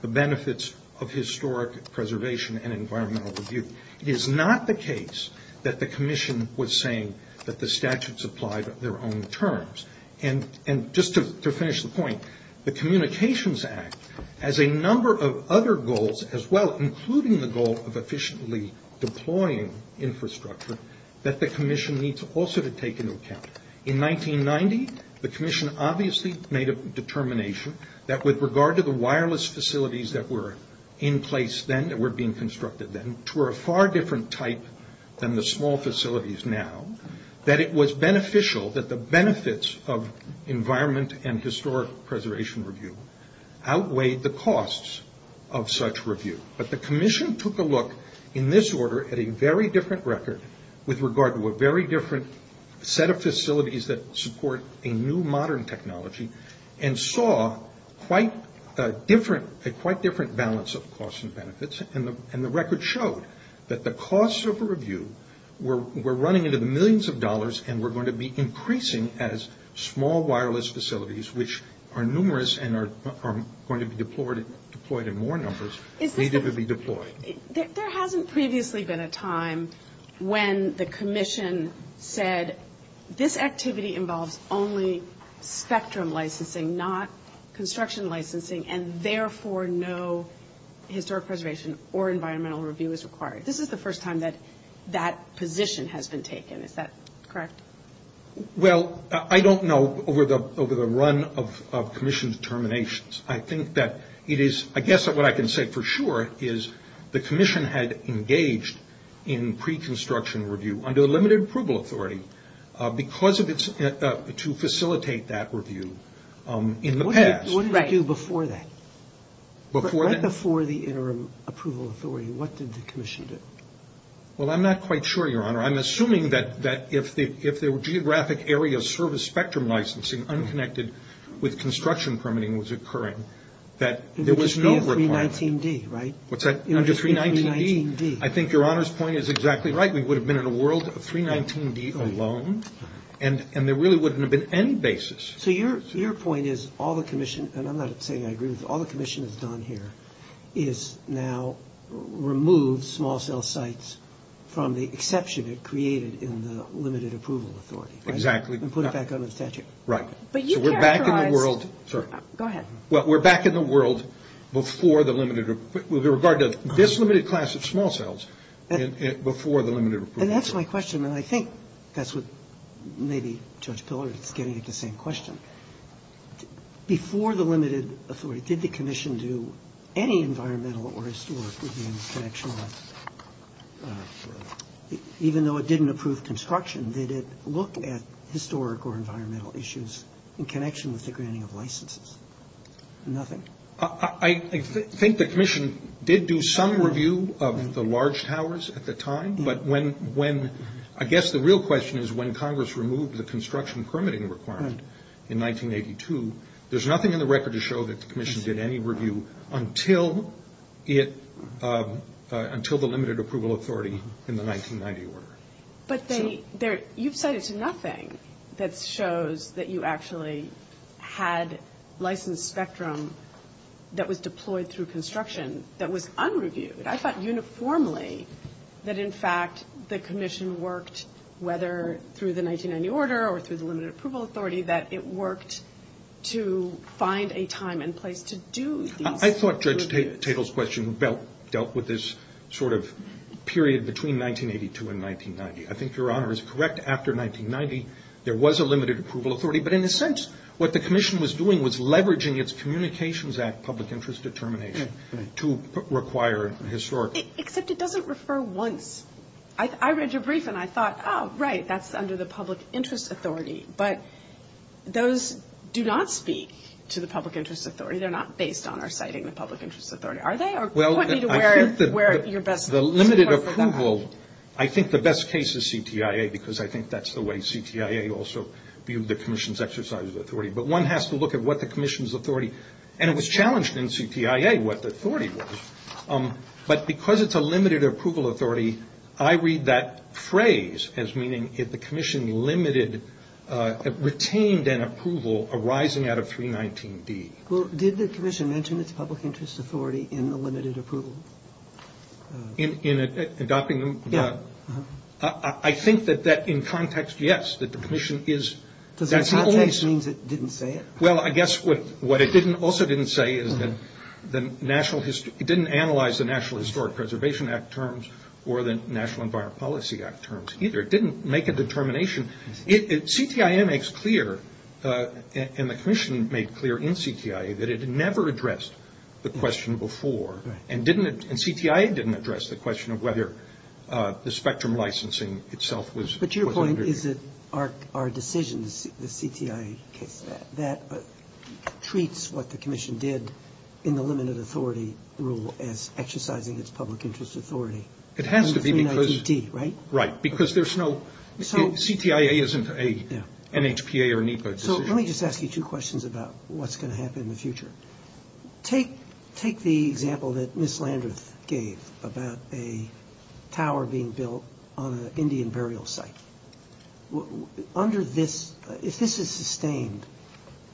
the benefits of historic preservation and environmental review. It is not the case that the commission was saying that the statutes applied on their own terms. And just to finish the point, the Communications Act, as a number of other goals as well, including the goal of efficiently deploying infrastructure, that the commission needs also to take into account. In 1990, the commission obviously made a determination that with regard to the wireless facilities that were in place then, that were being constructed then, to a far different type than the small facilities now, that it was beneficial that the benefits of environment and historic preservation review outweighed the costs of such review. But the commission took a look in this order at a very different record with regard to a very different set of facilities that support a new modern technology and saw a quite different balance of costs and benefits. And the record showed that the costs of a review were running into millions of dollars and were going to be increasing as small wireless facilities, which are numerous and are going to be deployed in more numbers, needed to be deployed. There hasn't previously been a time when the commission said, this activity involves only spectrum licensing, not construction licensing, and therefore no historic preservation or environmental review is required. This is the first time that that position has been taken. Is that correct? Well, I don't know over the run of commission determinations. I think that it is, I guess what I can say for sure, is the commission had engaged in pre-construction review under limited approval authority because of its, to facilitate that review in the past. What did it do before that? Before that? Right before the interim approval authority, what did the commission do? Well, I'm not quite sure, Your Honor. I'm assuming that if the geographic area service spectrum licensing unconnected with construction permitting was occurring, that there was no requirement. Under 319D, right? What's that? Under 319D. I think Your Honor's point is exactly right. We would have been in a world of 319D alone, and there really wouldn't have been any basis. So your point is all the commission, and I'm not saying I agree with this, but all the commission has done here is now removed small cell sites from the exception it created in the limited approval authority. Exactly. And put it back under the statute. Right. So we're back in the world. Go ahead. Well, we're back in the world before the limited, with regard to this limited class of small cells before the limited approval authority. And that's my question, and I think that's what maybe Judge Pillard is getting at the same question. Before the limited authority, did the commission do any environmental or historic review in connection with, even though it didn't approve construction, did it look at historic or environmental issues in connection with the granting of licenses? Nothing. I think the commission did do some review of the large towers at the time, but when, I guess the real question is when Congress removed the construction permitting requirement. Right. In 1982. There's nothing in the record to show that the commission did any review until the limited approval authority in the 1990 order. But you've said it's nothing that shows that you actually had licensed spectrum that was deployed through construction that was unreviewed. I thought uniformly that, in fact, the commission worked, whether through the 1990 order or through the limited approval authority, that it worked to find a time and place to do. I thought Judge Tatel's question dealt with this sort of period between 1982 and 1990. I think Your Honor is correct. After 1990, there was a limited approval authority, but in a sense what the commission was doing was leveraging its Communications Act public interest determination to require historical. Except it doesn't refer once. I read your brief and I thought, oh, right, that's under the public interest authority, but those do not speak to the public interest authority. They're not based on or citing the public interest authority. Are they? Well, I think the limited approval, I think the best case is CTIA because I think that's the way CTIA also viewed the commission's exercise of authority. But one has to look at what the commission's authority, and it was challenged in CTIA what the authority was. But because it's a limited approval authority, I read that phrase as meaning if the commission retained an approval arising out of 319B. Well, did the commission mention its public interest authority in the limited approval? In adopting? Yeah. I think that in context, yes, that the commission is. Does that mean it only assumes it didn't say it? Well, I guess what it also didn't say is that it didn't analyze the National Historic Preservation Act terms or the National Environment Policy Act terms either. It didn't make a determination. CTIA makes clear, and the commission made clear in CTIA, that it never addressed the question before. And CTIA didn't address the question of whether the spectrum licensing itself was. But your point is that our decisions, the CTIA, that treats what the commission did in the limited authority rule as exercising its public interest authority. It has to be because. Right. Because there's no. CTIA isn't a NHPA or NEPA. So let me just ask you two questions about what's going to happen in the future. Take the example that Ms. Landers gave about a tower being built on an Indian burial site. Under this, if this is sustained,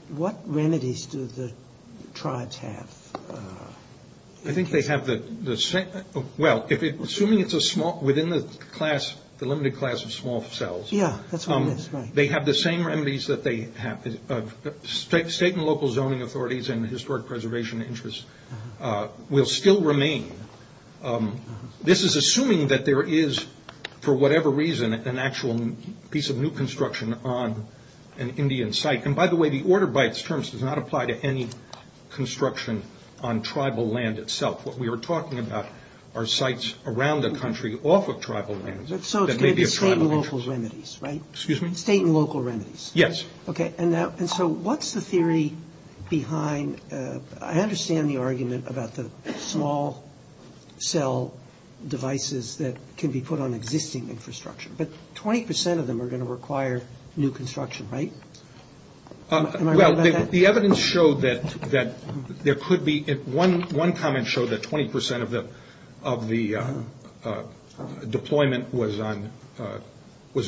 what remedies do the tribes have? I think they have the same. Well, assuming it's a small, within the class, the limited class of small cells. Yeah, that's right. They have the same remedies that they have. State and local zoning authorities and historic preservation interests will still remain. This is assuming that there is, for whatever reason, an actual piece of new construction on an Indian site. And by the way, the order by its terms does not apply to any construction on tribal land itself. What we were talking about are sites around the country off of tribal lands. So it's going to be state and local remedies, right? Excuse me? State and local remedies. Yes. Okay. And so what's the theory behind, I understand the argument about the small cell devices that can be put on existing infrastructure. But 20% of them are going to require new construction, right? Am I right about that? The evidence showed that there could be, one comment showed that 20% of the deployment was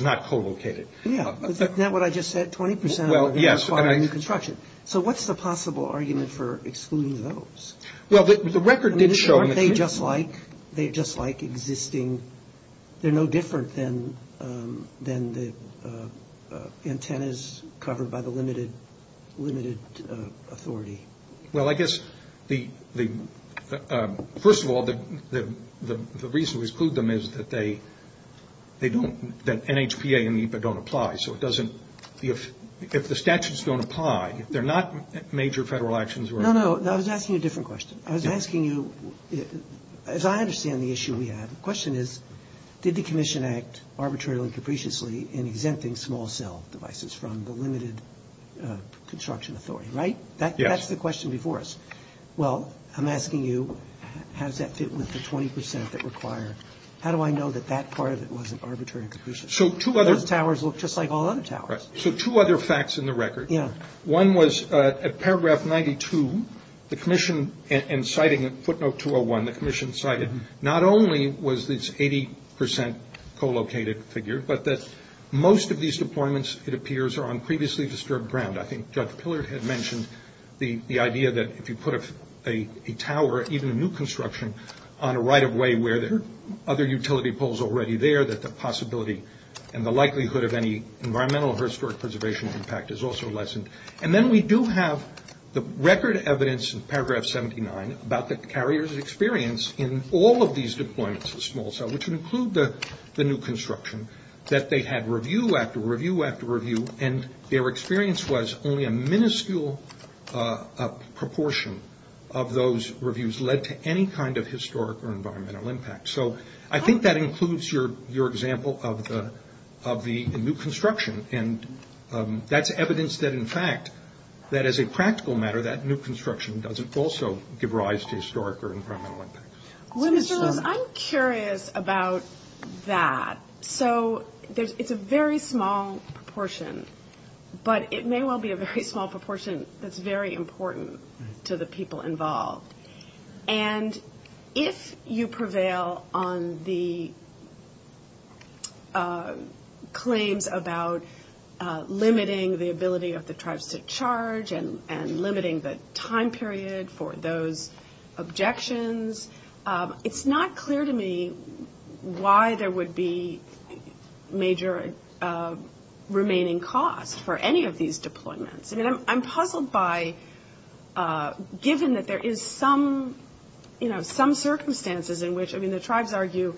not co-located. Yeah. Isn't that what I just said? 20% are going to require new construction. So what's the possible argument for excluding those? Well, the record did show- Aren't they just like existing? They're no different than the antennas covered by the limited authority. Well, I guess, first of all, the reason we exclude them is that NHPA and NEPA don't apply. So if the statutes don't apply, if they're not major federal actions- No, no, no. I was asking you a different question. I was asking you, as I understand the issue we have, the question is, did the commission act arbitrarily and capriciously in exempting small cell devices from the limited construction authority, right? Yes. That's the question before us. Well, I'm asking you, how does that fit with the 20% that required? How do I know that that part of it wasn't arbitrary and capricious? So two other- Those towers look just like all other towers. So two other facts in the record. Yeah. One was, at paragraph 92, the commission, in citing footnote 201, the commission cited not only was this 80% co-located figure, but that most of these deployments, it appears, are on previously disturbed ground. I think Judge Pillard had mentioned the idea that if you put a tower, even a new construction, on a right-of-way where there are other utility poles already there, that the possibility and the likelihood of any environmental or historic preservation impact is also lessened. And then we do have the record evidence in paragraph 79 about the carrier's experience in all of these deployments of small cell, which include the new construction, that they had review after review after review, and their experience was only a minuscule proportion of those reviews led to any kind of historic or environmental impact. So I think that includes your example of the new construction. And that's evidence that, in fact, that as a practical matter, that new construction doesn't also give rise to historic or environmental impacts. Well, Mr. Loeb, I'm curious about that. So it's a very small proportion. But it may well be a very small proportion that's very important to the people involved. And if you prevail on the claims about limiting the ability of the tribes to charge and limiting the time period for those objections, it's not clear to me why there would be major remaining costs for any of these deployments. I'm puzzled by, given that there is some circumstances in which, I mean, the tribes argue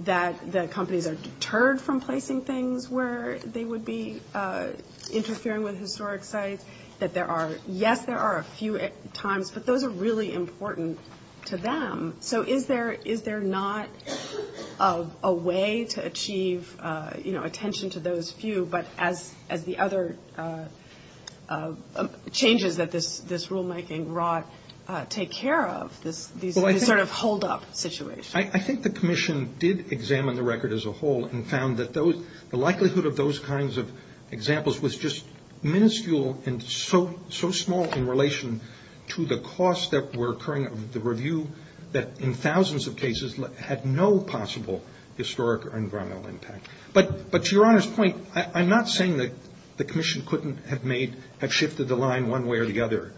that the companies are deterred from placing things where they would be interfering with historic sites, that there are, yes, there are a few times, but those are really important to them. So is there not a way to achieve, you know, attention to those few, but as the other changes that this rule might engross, take care of these sort of hold-up situations? I think the commission did examine the record as a whole and found that the likelihood of those kinds of examples was just minuscule and so small in relation to the costs that were occurring, the review, that in thousands of cases had no possible historic or environmental impact. But to Your Honor's point, I'm not saying that the commission couldn't have shifted the line one way or the other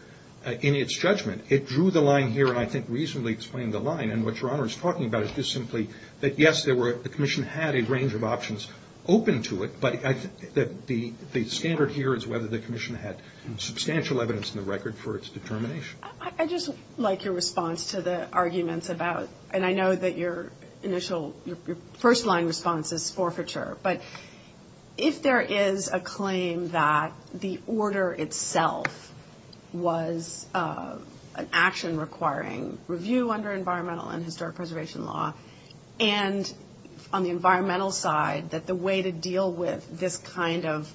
in its judgment. It drew the line here and I think reasonably explained the line. And what Your Honor is talking about is just simply that, yes, the commission had a range of options open to it, but the standard here is whether the commission had substantial evidence in the record for its determination. I just like your response to the arguments about, and I know that your initial, your first line response is forfeiture, but if there is a claim that the order itself was an action requiring review under environmental and historic preservation law, and on the environmental side, that the way to deal with this kind of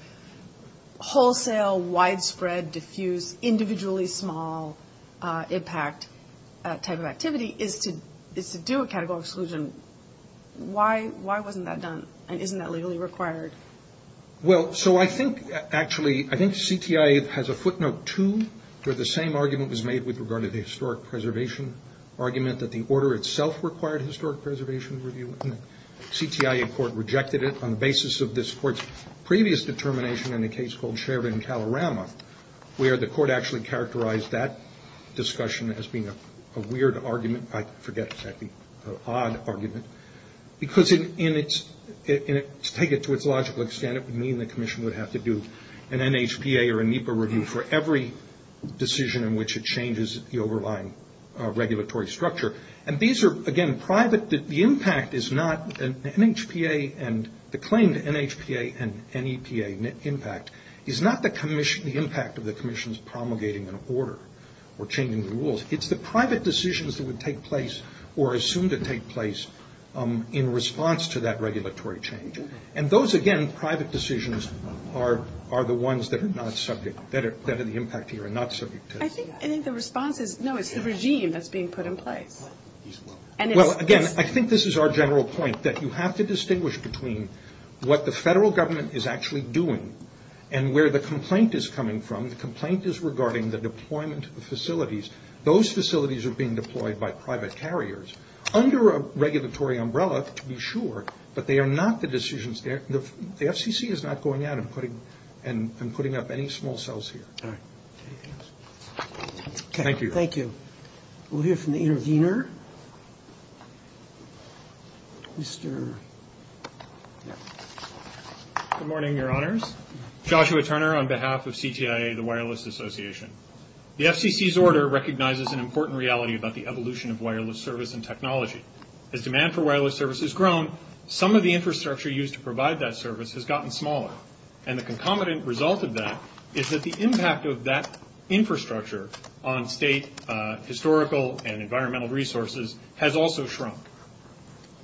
wholesale, widespread, diffuse, individually small, impact type of activity is to do a categorical exclusion, why wasn't that done and isn't that legally required? Well, so I think actually, I think CTIA has a footnote too, where the same argument was made with regard to the historic preservation argument that the order itself required historic preservation review. The CTIA court rejected it on the basis of this court's previous determination in a case called Shervin-Calarama, where the court actually characterized that discussion as being a weird argument, I forget exactly, an odd argument, because in its, to take it to its logical extent, it would mean the commission would have to do an NHPA or a NEPA review for every decision in which it changes the overlying regulatory structure. And these are, again, private, the impact is not an NHPA and the claim to NHPA and NEPA impact is not the commission, the impact of the commission's promulgating an order or changing the rules, it's the private decisions that would take place or assumed to take place in response to that regulatory change. And those, again, private decisions are the ones that are not subject, that have an impact here and not subject to NHPA. I think the response is, no, it's the regime that's being put in place. Well, again, I think this is our general point, that you have to distinguish between what the federal government is actually doing and where the complaint is coming from. The complaint is regarding the deployment of the facilities. Those facilities are being deployed by private carriers under a regulatory umbrella, to be sure, but they are not the decisions, the FCC is not going out and putting up any small cells here. Thank you. Thank you. We'll hear from the intervener. Good morning, your honors. Joshua Turner on behalf of CTIA, the Wireless Association. The FCC's order recognizes an important reality about the evolution of wireless service and technology. As demand for wireless service has grown, some of the infrastructure used to provide that service has gotten smaller. And the concomitant result of that is that the impact of that infrastructure on state historical and environmental resources has also shrunk.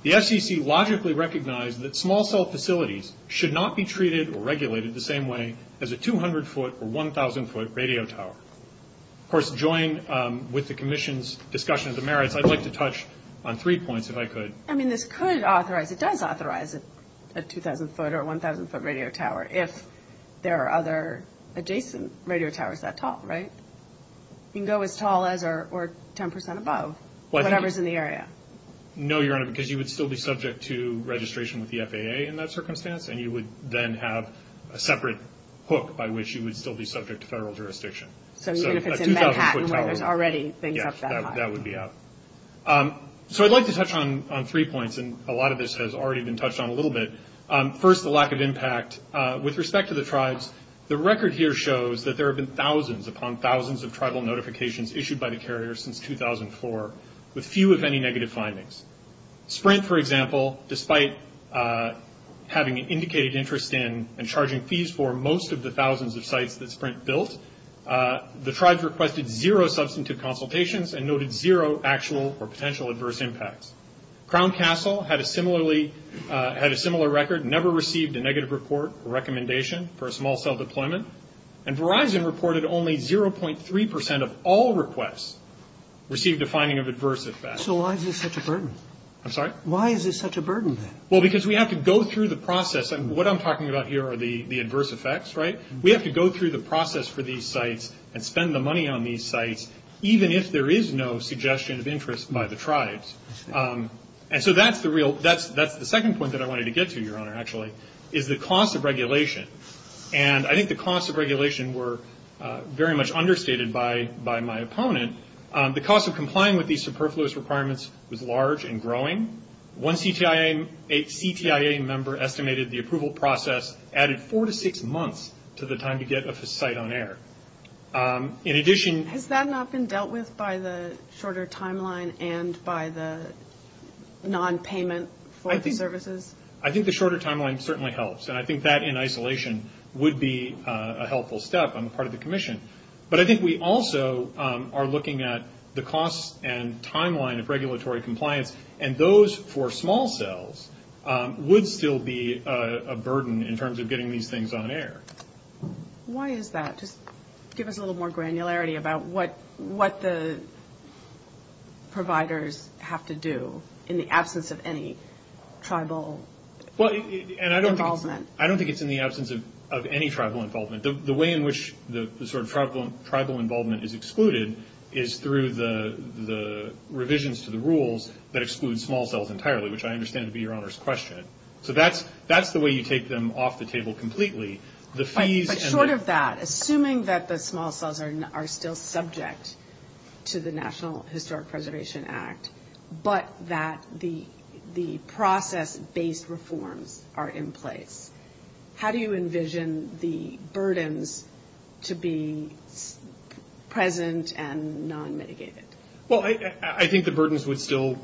The FCC logically recognized that small cell facilities should not be treated or regulated the same way as a 200-foot or 1,000-foot radio tower. Of course, joined with the commission's discussion of the merits, I'd like to touch on three points, if I could. I mean, this could authorize, it does authorize a 2,000-foot or 1,000-foot radio tower if there are other adjacent radio towers up top, right? You can go as tall as or 10% above, whatever's in the area. No, your honor, because you would still be subject to registration with the FAA in that circumstance, and you would then have a separate hook by which you would still be subject to federal jurisdiction. So even if it's in Manhattan, where it's already things up that high. Yes, that would be out. So I'd like to touch on three points, and a lot of this has already been touched on a little bit. First, the lack of impact. With respect to the tribes, the record here shows that there have been thousands upon thousands of tribal notifications issued by the carrier since 2004, with few, if any, negative findings. Sprint, for example, despite having an indicated interest in and charging fees for most of the thousands of sites that Sprint built, the tribes requested zero substantive consultations and noted zero actual or potential adverse impacts. Crown Castle had a similar record, never received a negative report or recommendation for a small cell deployment, and Verizon reported only 0.3% of all requests received a finding of adverse effects. So why is this such a burden? I'm sorry? Why is this such a burden, then? Well, because we have to go through the process, and what I'm talking about here are the adverse effects, right? We have to go through the process for these sites and spend the money on these sites, even if there is no suggestion of interest by the tribes. And so that's the second point that I wanted to get to, Your Honor, actually, is the cost of regulation. And I think the costs of regulation were very much understated by my opponent. The cost of complying with these superfluous requirements was large and growing. One CTIA member estimated the approval process added four to six months to the time to get a site on air. In addition to that. Has that not been dealt with by the shorter timeline and by the non-payment services? I think the shorter timeline certainly helps, and I think that in isolation would be a helpful step on the part of the commission. But I think we also are looking at the cost and timeline of regulatory compliance, and those for small cells would still be a burden in terms of getting these things on air. Why is that? Just give us a little more granularity about what the providers have to do in the absence of any tribal involvement. I don't think it's in the absence of any tribal involvement. The way in which the sort of tribal involvement is excluded is through the revisions to the rules that exclude small cells entirely, which I understand would be Your Honor's question. So that's the way you take them off the table completely. But short of that, assuming that the small cells are still subject to the National Historic Preservation Act, but that the process-based reforms are in place, how do you envision the burdens to be present and non-mitigated? Well, I think the burdens would still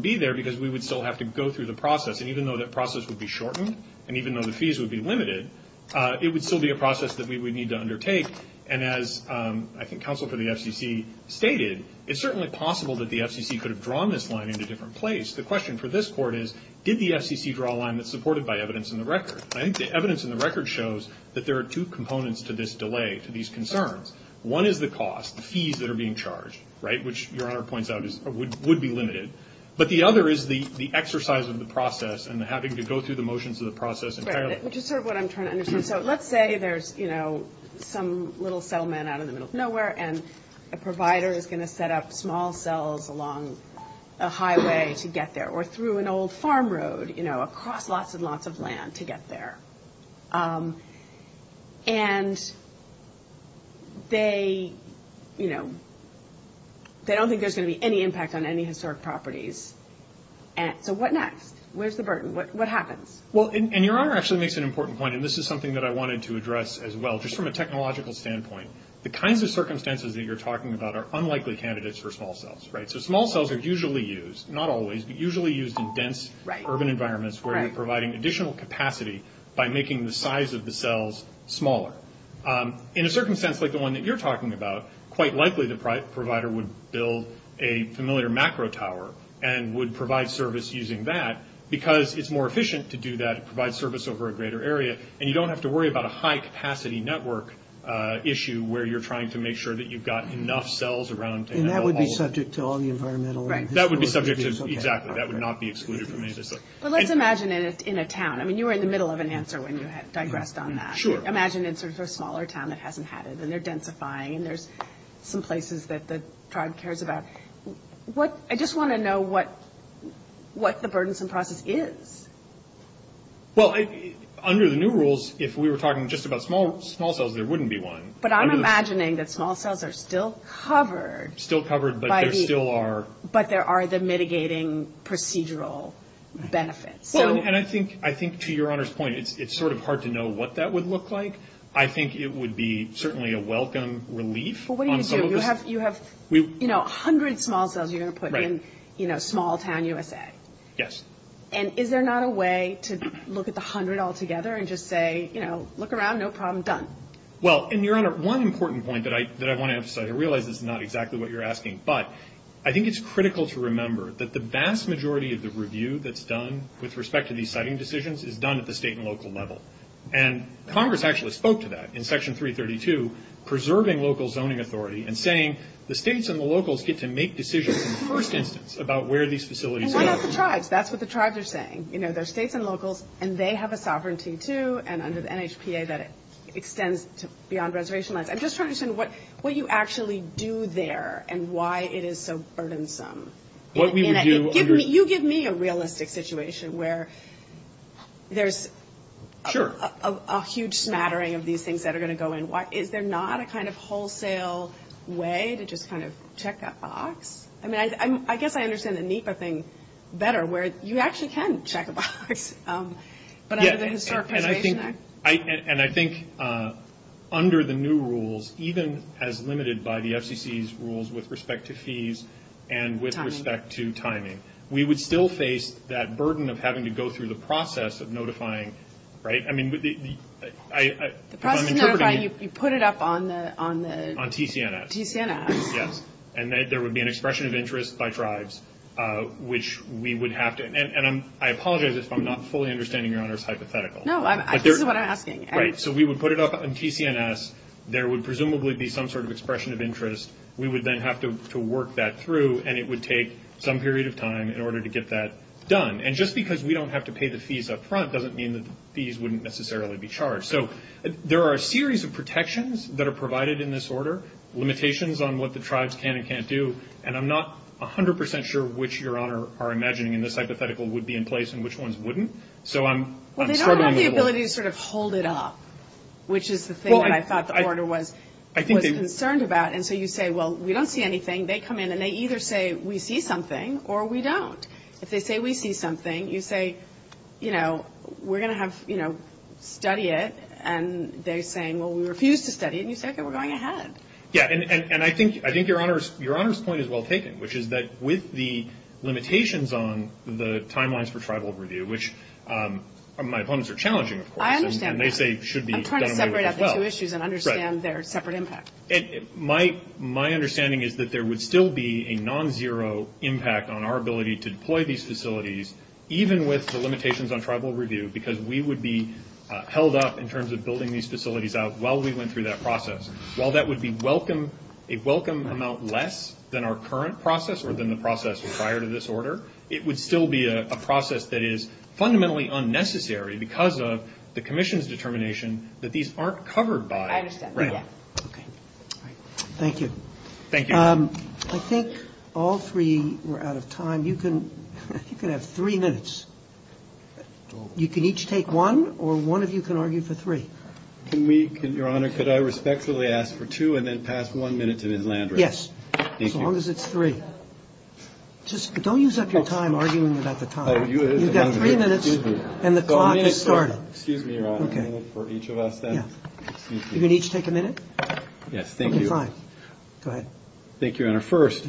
be there, because we would still have to go through the process. And even though that process would be shortened, and even though the fees would be limited, it would still be a process that we would need to undertake. And as I think Counsel for the FCC stated, it's certainly possible that the FCC could have drawn this line into a different place. The question for this Court is, did the FCC draw a line that's supported by evidence in the record? I think the evidence in the record shows that there are two components to this delay, to these concerns. One is the cost, fees that are being charged, right, which Your Honor points out would be limited. But the other is the exercise of the process and having to go through the motions of the process entirely. Right, which is sort of what I'm trying to understand. So let's say there's, you know, some little settlement out in the middle of nowhere, and a provider is going to set up small cells along a highway to get there, or through an old farm road, you know, across lots and lots of land to get there. And they, you know, they don't think there's going to be any impact on any of these properties. And so what next? Where's the burden? What happens? Well, and Your Honor actually makes an important point, and this is something that I wanted to address as well, just from a technological standpoint. The kinds of circumstances that you're talking about are unlikely candidates for small cells, right? So small cells are usually used, not always, but usually used in dense urban environments where you're providing additional capacity by making the size of the cells smaller. In a circumstance like the one that you're talking about, quite likely the provider would build a familiar macro tower and would provide service using that because it's more efficient to do that, provide service over a greater area, and you don't have to worry about a high-capacity network issue where you're trying to make sure that you've got enough cells around to handle all of it. And that would be subject to all the environmental... Right. That would be subject to... Exactly. That would not be excluded from any system. But let's imagine it's in a town. I mean, you were in the middle of an answer when you had digressed on that. Sure. Imagine it's a smaller town that hasn't had it, and they're densifying, and there's some places that the tribe cares about. What... I just want to know what the burdensome process is. Well, under the new rules, if we were talking just about small cells, there wouldn't be one. But I'm imagining that small cells are still covered... Still covered, but there still are... But there are the mitigating procedural benefits. And I think, to Your Honor's point, it's sort of hard to know what that would look like. I think it would be certainly a welcome relief. Well, what do you do? You have, you know, 100 small cells you're going to put in, you know, small-town USA. Yes. And is there not a way to look at the 100 all together and just say, you know, look around, no problem, done? Well, and Your Honor, one important point that I want to emphasize, I realize this is not exactly what you're asking, but I think it's critical to remember that the vast majority of the review that's done with respect to these siting decisions is done at the state and local level. And Congress actually spoke to that in Section 332, preserving local zoning authority, and saying the states and the locals get to make decisions in person about where these facilities are. And what about the tribes? That's what the tribes are saying. You know, they're states and locals, and they have a sovereignty, too, and under the NHPA that extends beyond reservation-wise. I'm just trying to understand what you actually do there and why it is so burdensome. You give me a realistic situation where there's a huge smattering of these things that are going to go in. Is there not a kind of wholesale way to just kind of check that box? I mean, I guess I understand the NHPA thing better, where you actually can check a box. And I think under the new rules, even as limited by the FCC's rules with respect to fees and with respect to timing, we would still face that burden of having to go through the process of notifying, right? The process of notifying, you put it up on the... On TCNF. TCNF. Yes. And there would be an expression of interest by tribes, which we would have to... And I apologize if I'm not fully understanding Your Honor's hypothetical. No, I see what you're asking. Right. So we would put it up on TCNF. There would presumably be some sort of expression of interest. We would then have to work that through, and it would take some period of time in order to get that done. And just because we don't have to pay the fees up front doesn't mean the fees wouldn't necessarily be charged. So there are a series of protections that are provided in this order, limitations on what the tribes can and can't do, and I'm not 100% sure which, Your Honor, are imagining in this hypothetical would be in place and which ones wouldn't. So I'm struggling with one. Well, they don't have the ability to sort of hold it up, which is the thing that I thought the order was concerned about. And so you say, well, we don't see anything. They come in and they either say we see something or we don't. If they say we see something, you say, you know, we're going to have, you know, study it, and they're saying, well, we refuse to study it, and you say, okay, we're going ahead. Yeah, and I think Your Honor's point is well taken, which is that with the limitations on the timelines for tribal review, which my opponents are challenging, of course. I understand that. I'm trying to separate out the two issues and understand their separate impacts. My understanding is that there would still be a non-zero impact on our ability to deploy these facilities, even with the limitations on tribal review, because we would be held up in terms of building these facilities out while we went through that process. While that would be a welcome amount less than our current process or than the process prior to this order, it would still be a process that is fundamentally unnecessary because of the commission's determination that these aren't covered by. Okay. Thank you. Thank you. I think all three were out of time. You can have three minutes. You can each take one, or one of you can argue for three. Your Honor, could I respectfully ask for two and then pass one minute to Ms. Landry? Yes, as long as it's three. Don't use up your time arguing about the time. You've got three minutes, and the clock has started. Excuse me for each of us. You're going to each take a minute? Yes, thank you. Go ahead. Thank you, Your Honor. First,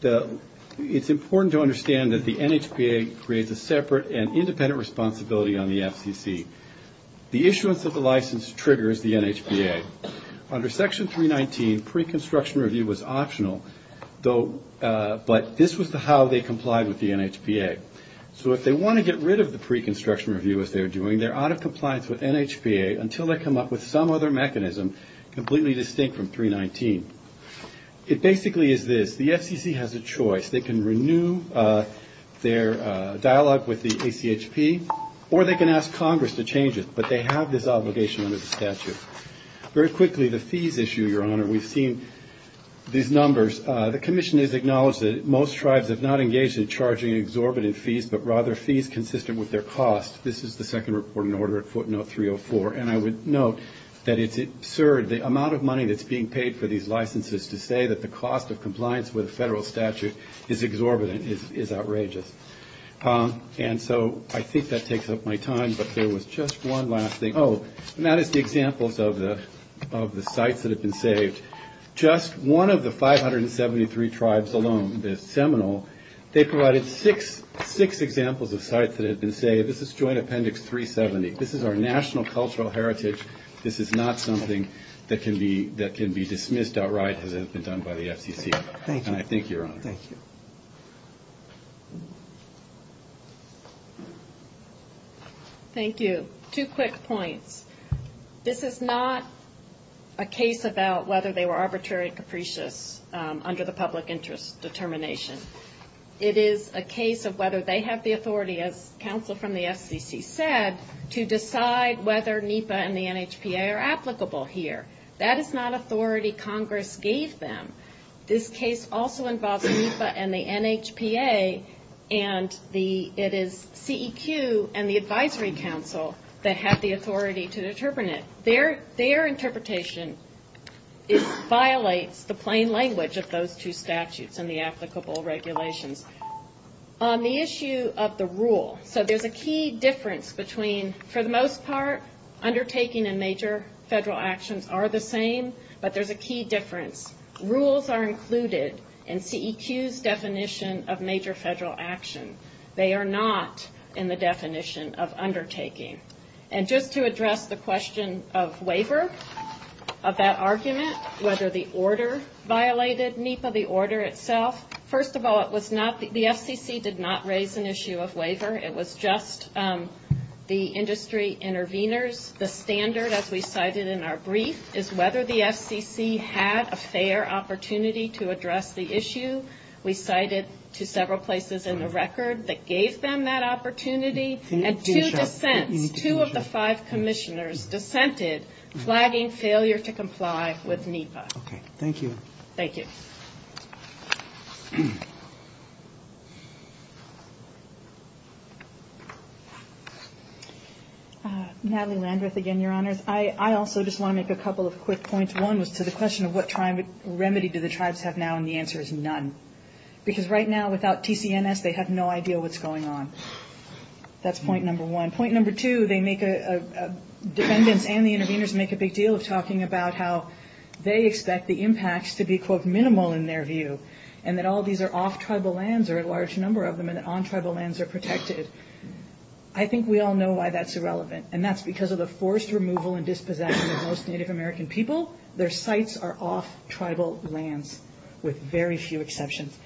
it's important to understand that the NHPA creates a separate and independent responsibility on the FTC. The issuance of the license triggers the NHPA. Under Section 319, pre-construction review was optional, but this was how they complied with the NHPA. So if they want to get rid of the pre-construction review, as they're doing, they're out of compliance with NHPA until they come up with some other mechanism completely distinct from 319. It basically is this. The FTC has a choice. They can renew their dialogue with the ACHP, or they can ask Congress to change it, but they have this obligation under the statute. Very quickly, the fees issue, Your Honor. We've seen these numbers. The commission has acknowledged that most tribes have not engaged in charging exorbitant fees, but rather fees consistent with their costs. This is the second report in order at footnote 304, and I would note that it's absurd. The amount of money that's being paid for these licenses to say that the cost of compliance with a federal statute is exorbitant is outrageous. And so I think that takes up my time, but there was just one last thing. Oh, and that is the examples of the sites that have been saved. Just one of the 573 tribes alone, the Seminole, they provided six examples of sites that have been saved. This is Joint Appendix 370. This is our national cultural heritage. This is not something that can be dismissed outright as it has been done by the FTC. Thank you. Thank you, Your Honor. Thank you. Two quick points. This is not a case about whether they were arbitrary capricious under the public interest determination. It is a case of whether they have the authority, as counsel from the FCC said, to decide whether NEPA and the NHPA are applicable here. That is not authority Congress gave them. This case also involves NEPA and the NHPA, and it is CEQ and the Advisory Council that have the authority to determine it. Their interpretation violates the plain language of those two statutes and the applicable regulations. On the issue of the rule, so there's a key difference between, for the most part, undertaking and major federal actions are the same, but there's a key difference. Rules are included in CEQ's definition of major federal actions. They are not in the definition of undertaking. And just to address the question of waiver, of that argument, whether the order violated NEPA, the order itself, first of all, the FCC did not raise an issue of waiver. It was just the industry intervenors. The standard, as we cited in our brief, is whether the FCC had a fair opportunity to address the issue. We cited several places in the record that gave them that opportunity. And two dissents, two of the five commissioners dissented, flagging failure to comply with NEPA. Okay. Thank you. Thank you. Natalie Landreth again, Your Honors. I also just want to make a couple of quick points. One was to the question of what remedy do the tribes have now, and the answer is none. Because right now, without TCNS, they have no idea what's going on. That's point number one. Point number two, they make a, dependents and the intervenors make a big deal talking about how they expect the impacts to be, quote, minimal in their view, and that all these are off tribal lands, or a large number of them, and on tribal lands are protected. I think we all know why that's irrelevant, and that's because of the forced removal and dispossession of most Native American people. Their sites are off tribal lands, with very few exceptions.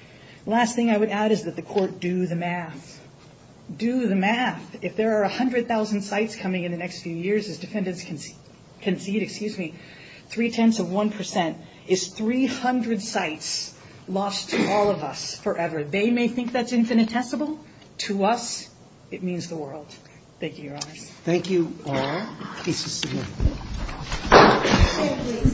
Last thing I would add is that the court do the math. Do the math. If there are 100,000 sites coming in the next few years, as dependents can see it, excuse me, three-tenths of 1% is 300 sites lost to all of us forever. They may think that's infinitesimal. To us, it means the world. Thank you, Your Honors. Thank you all. Peace. Thank you.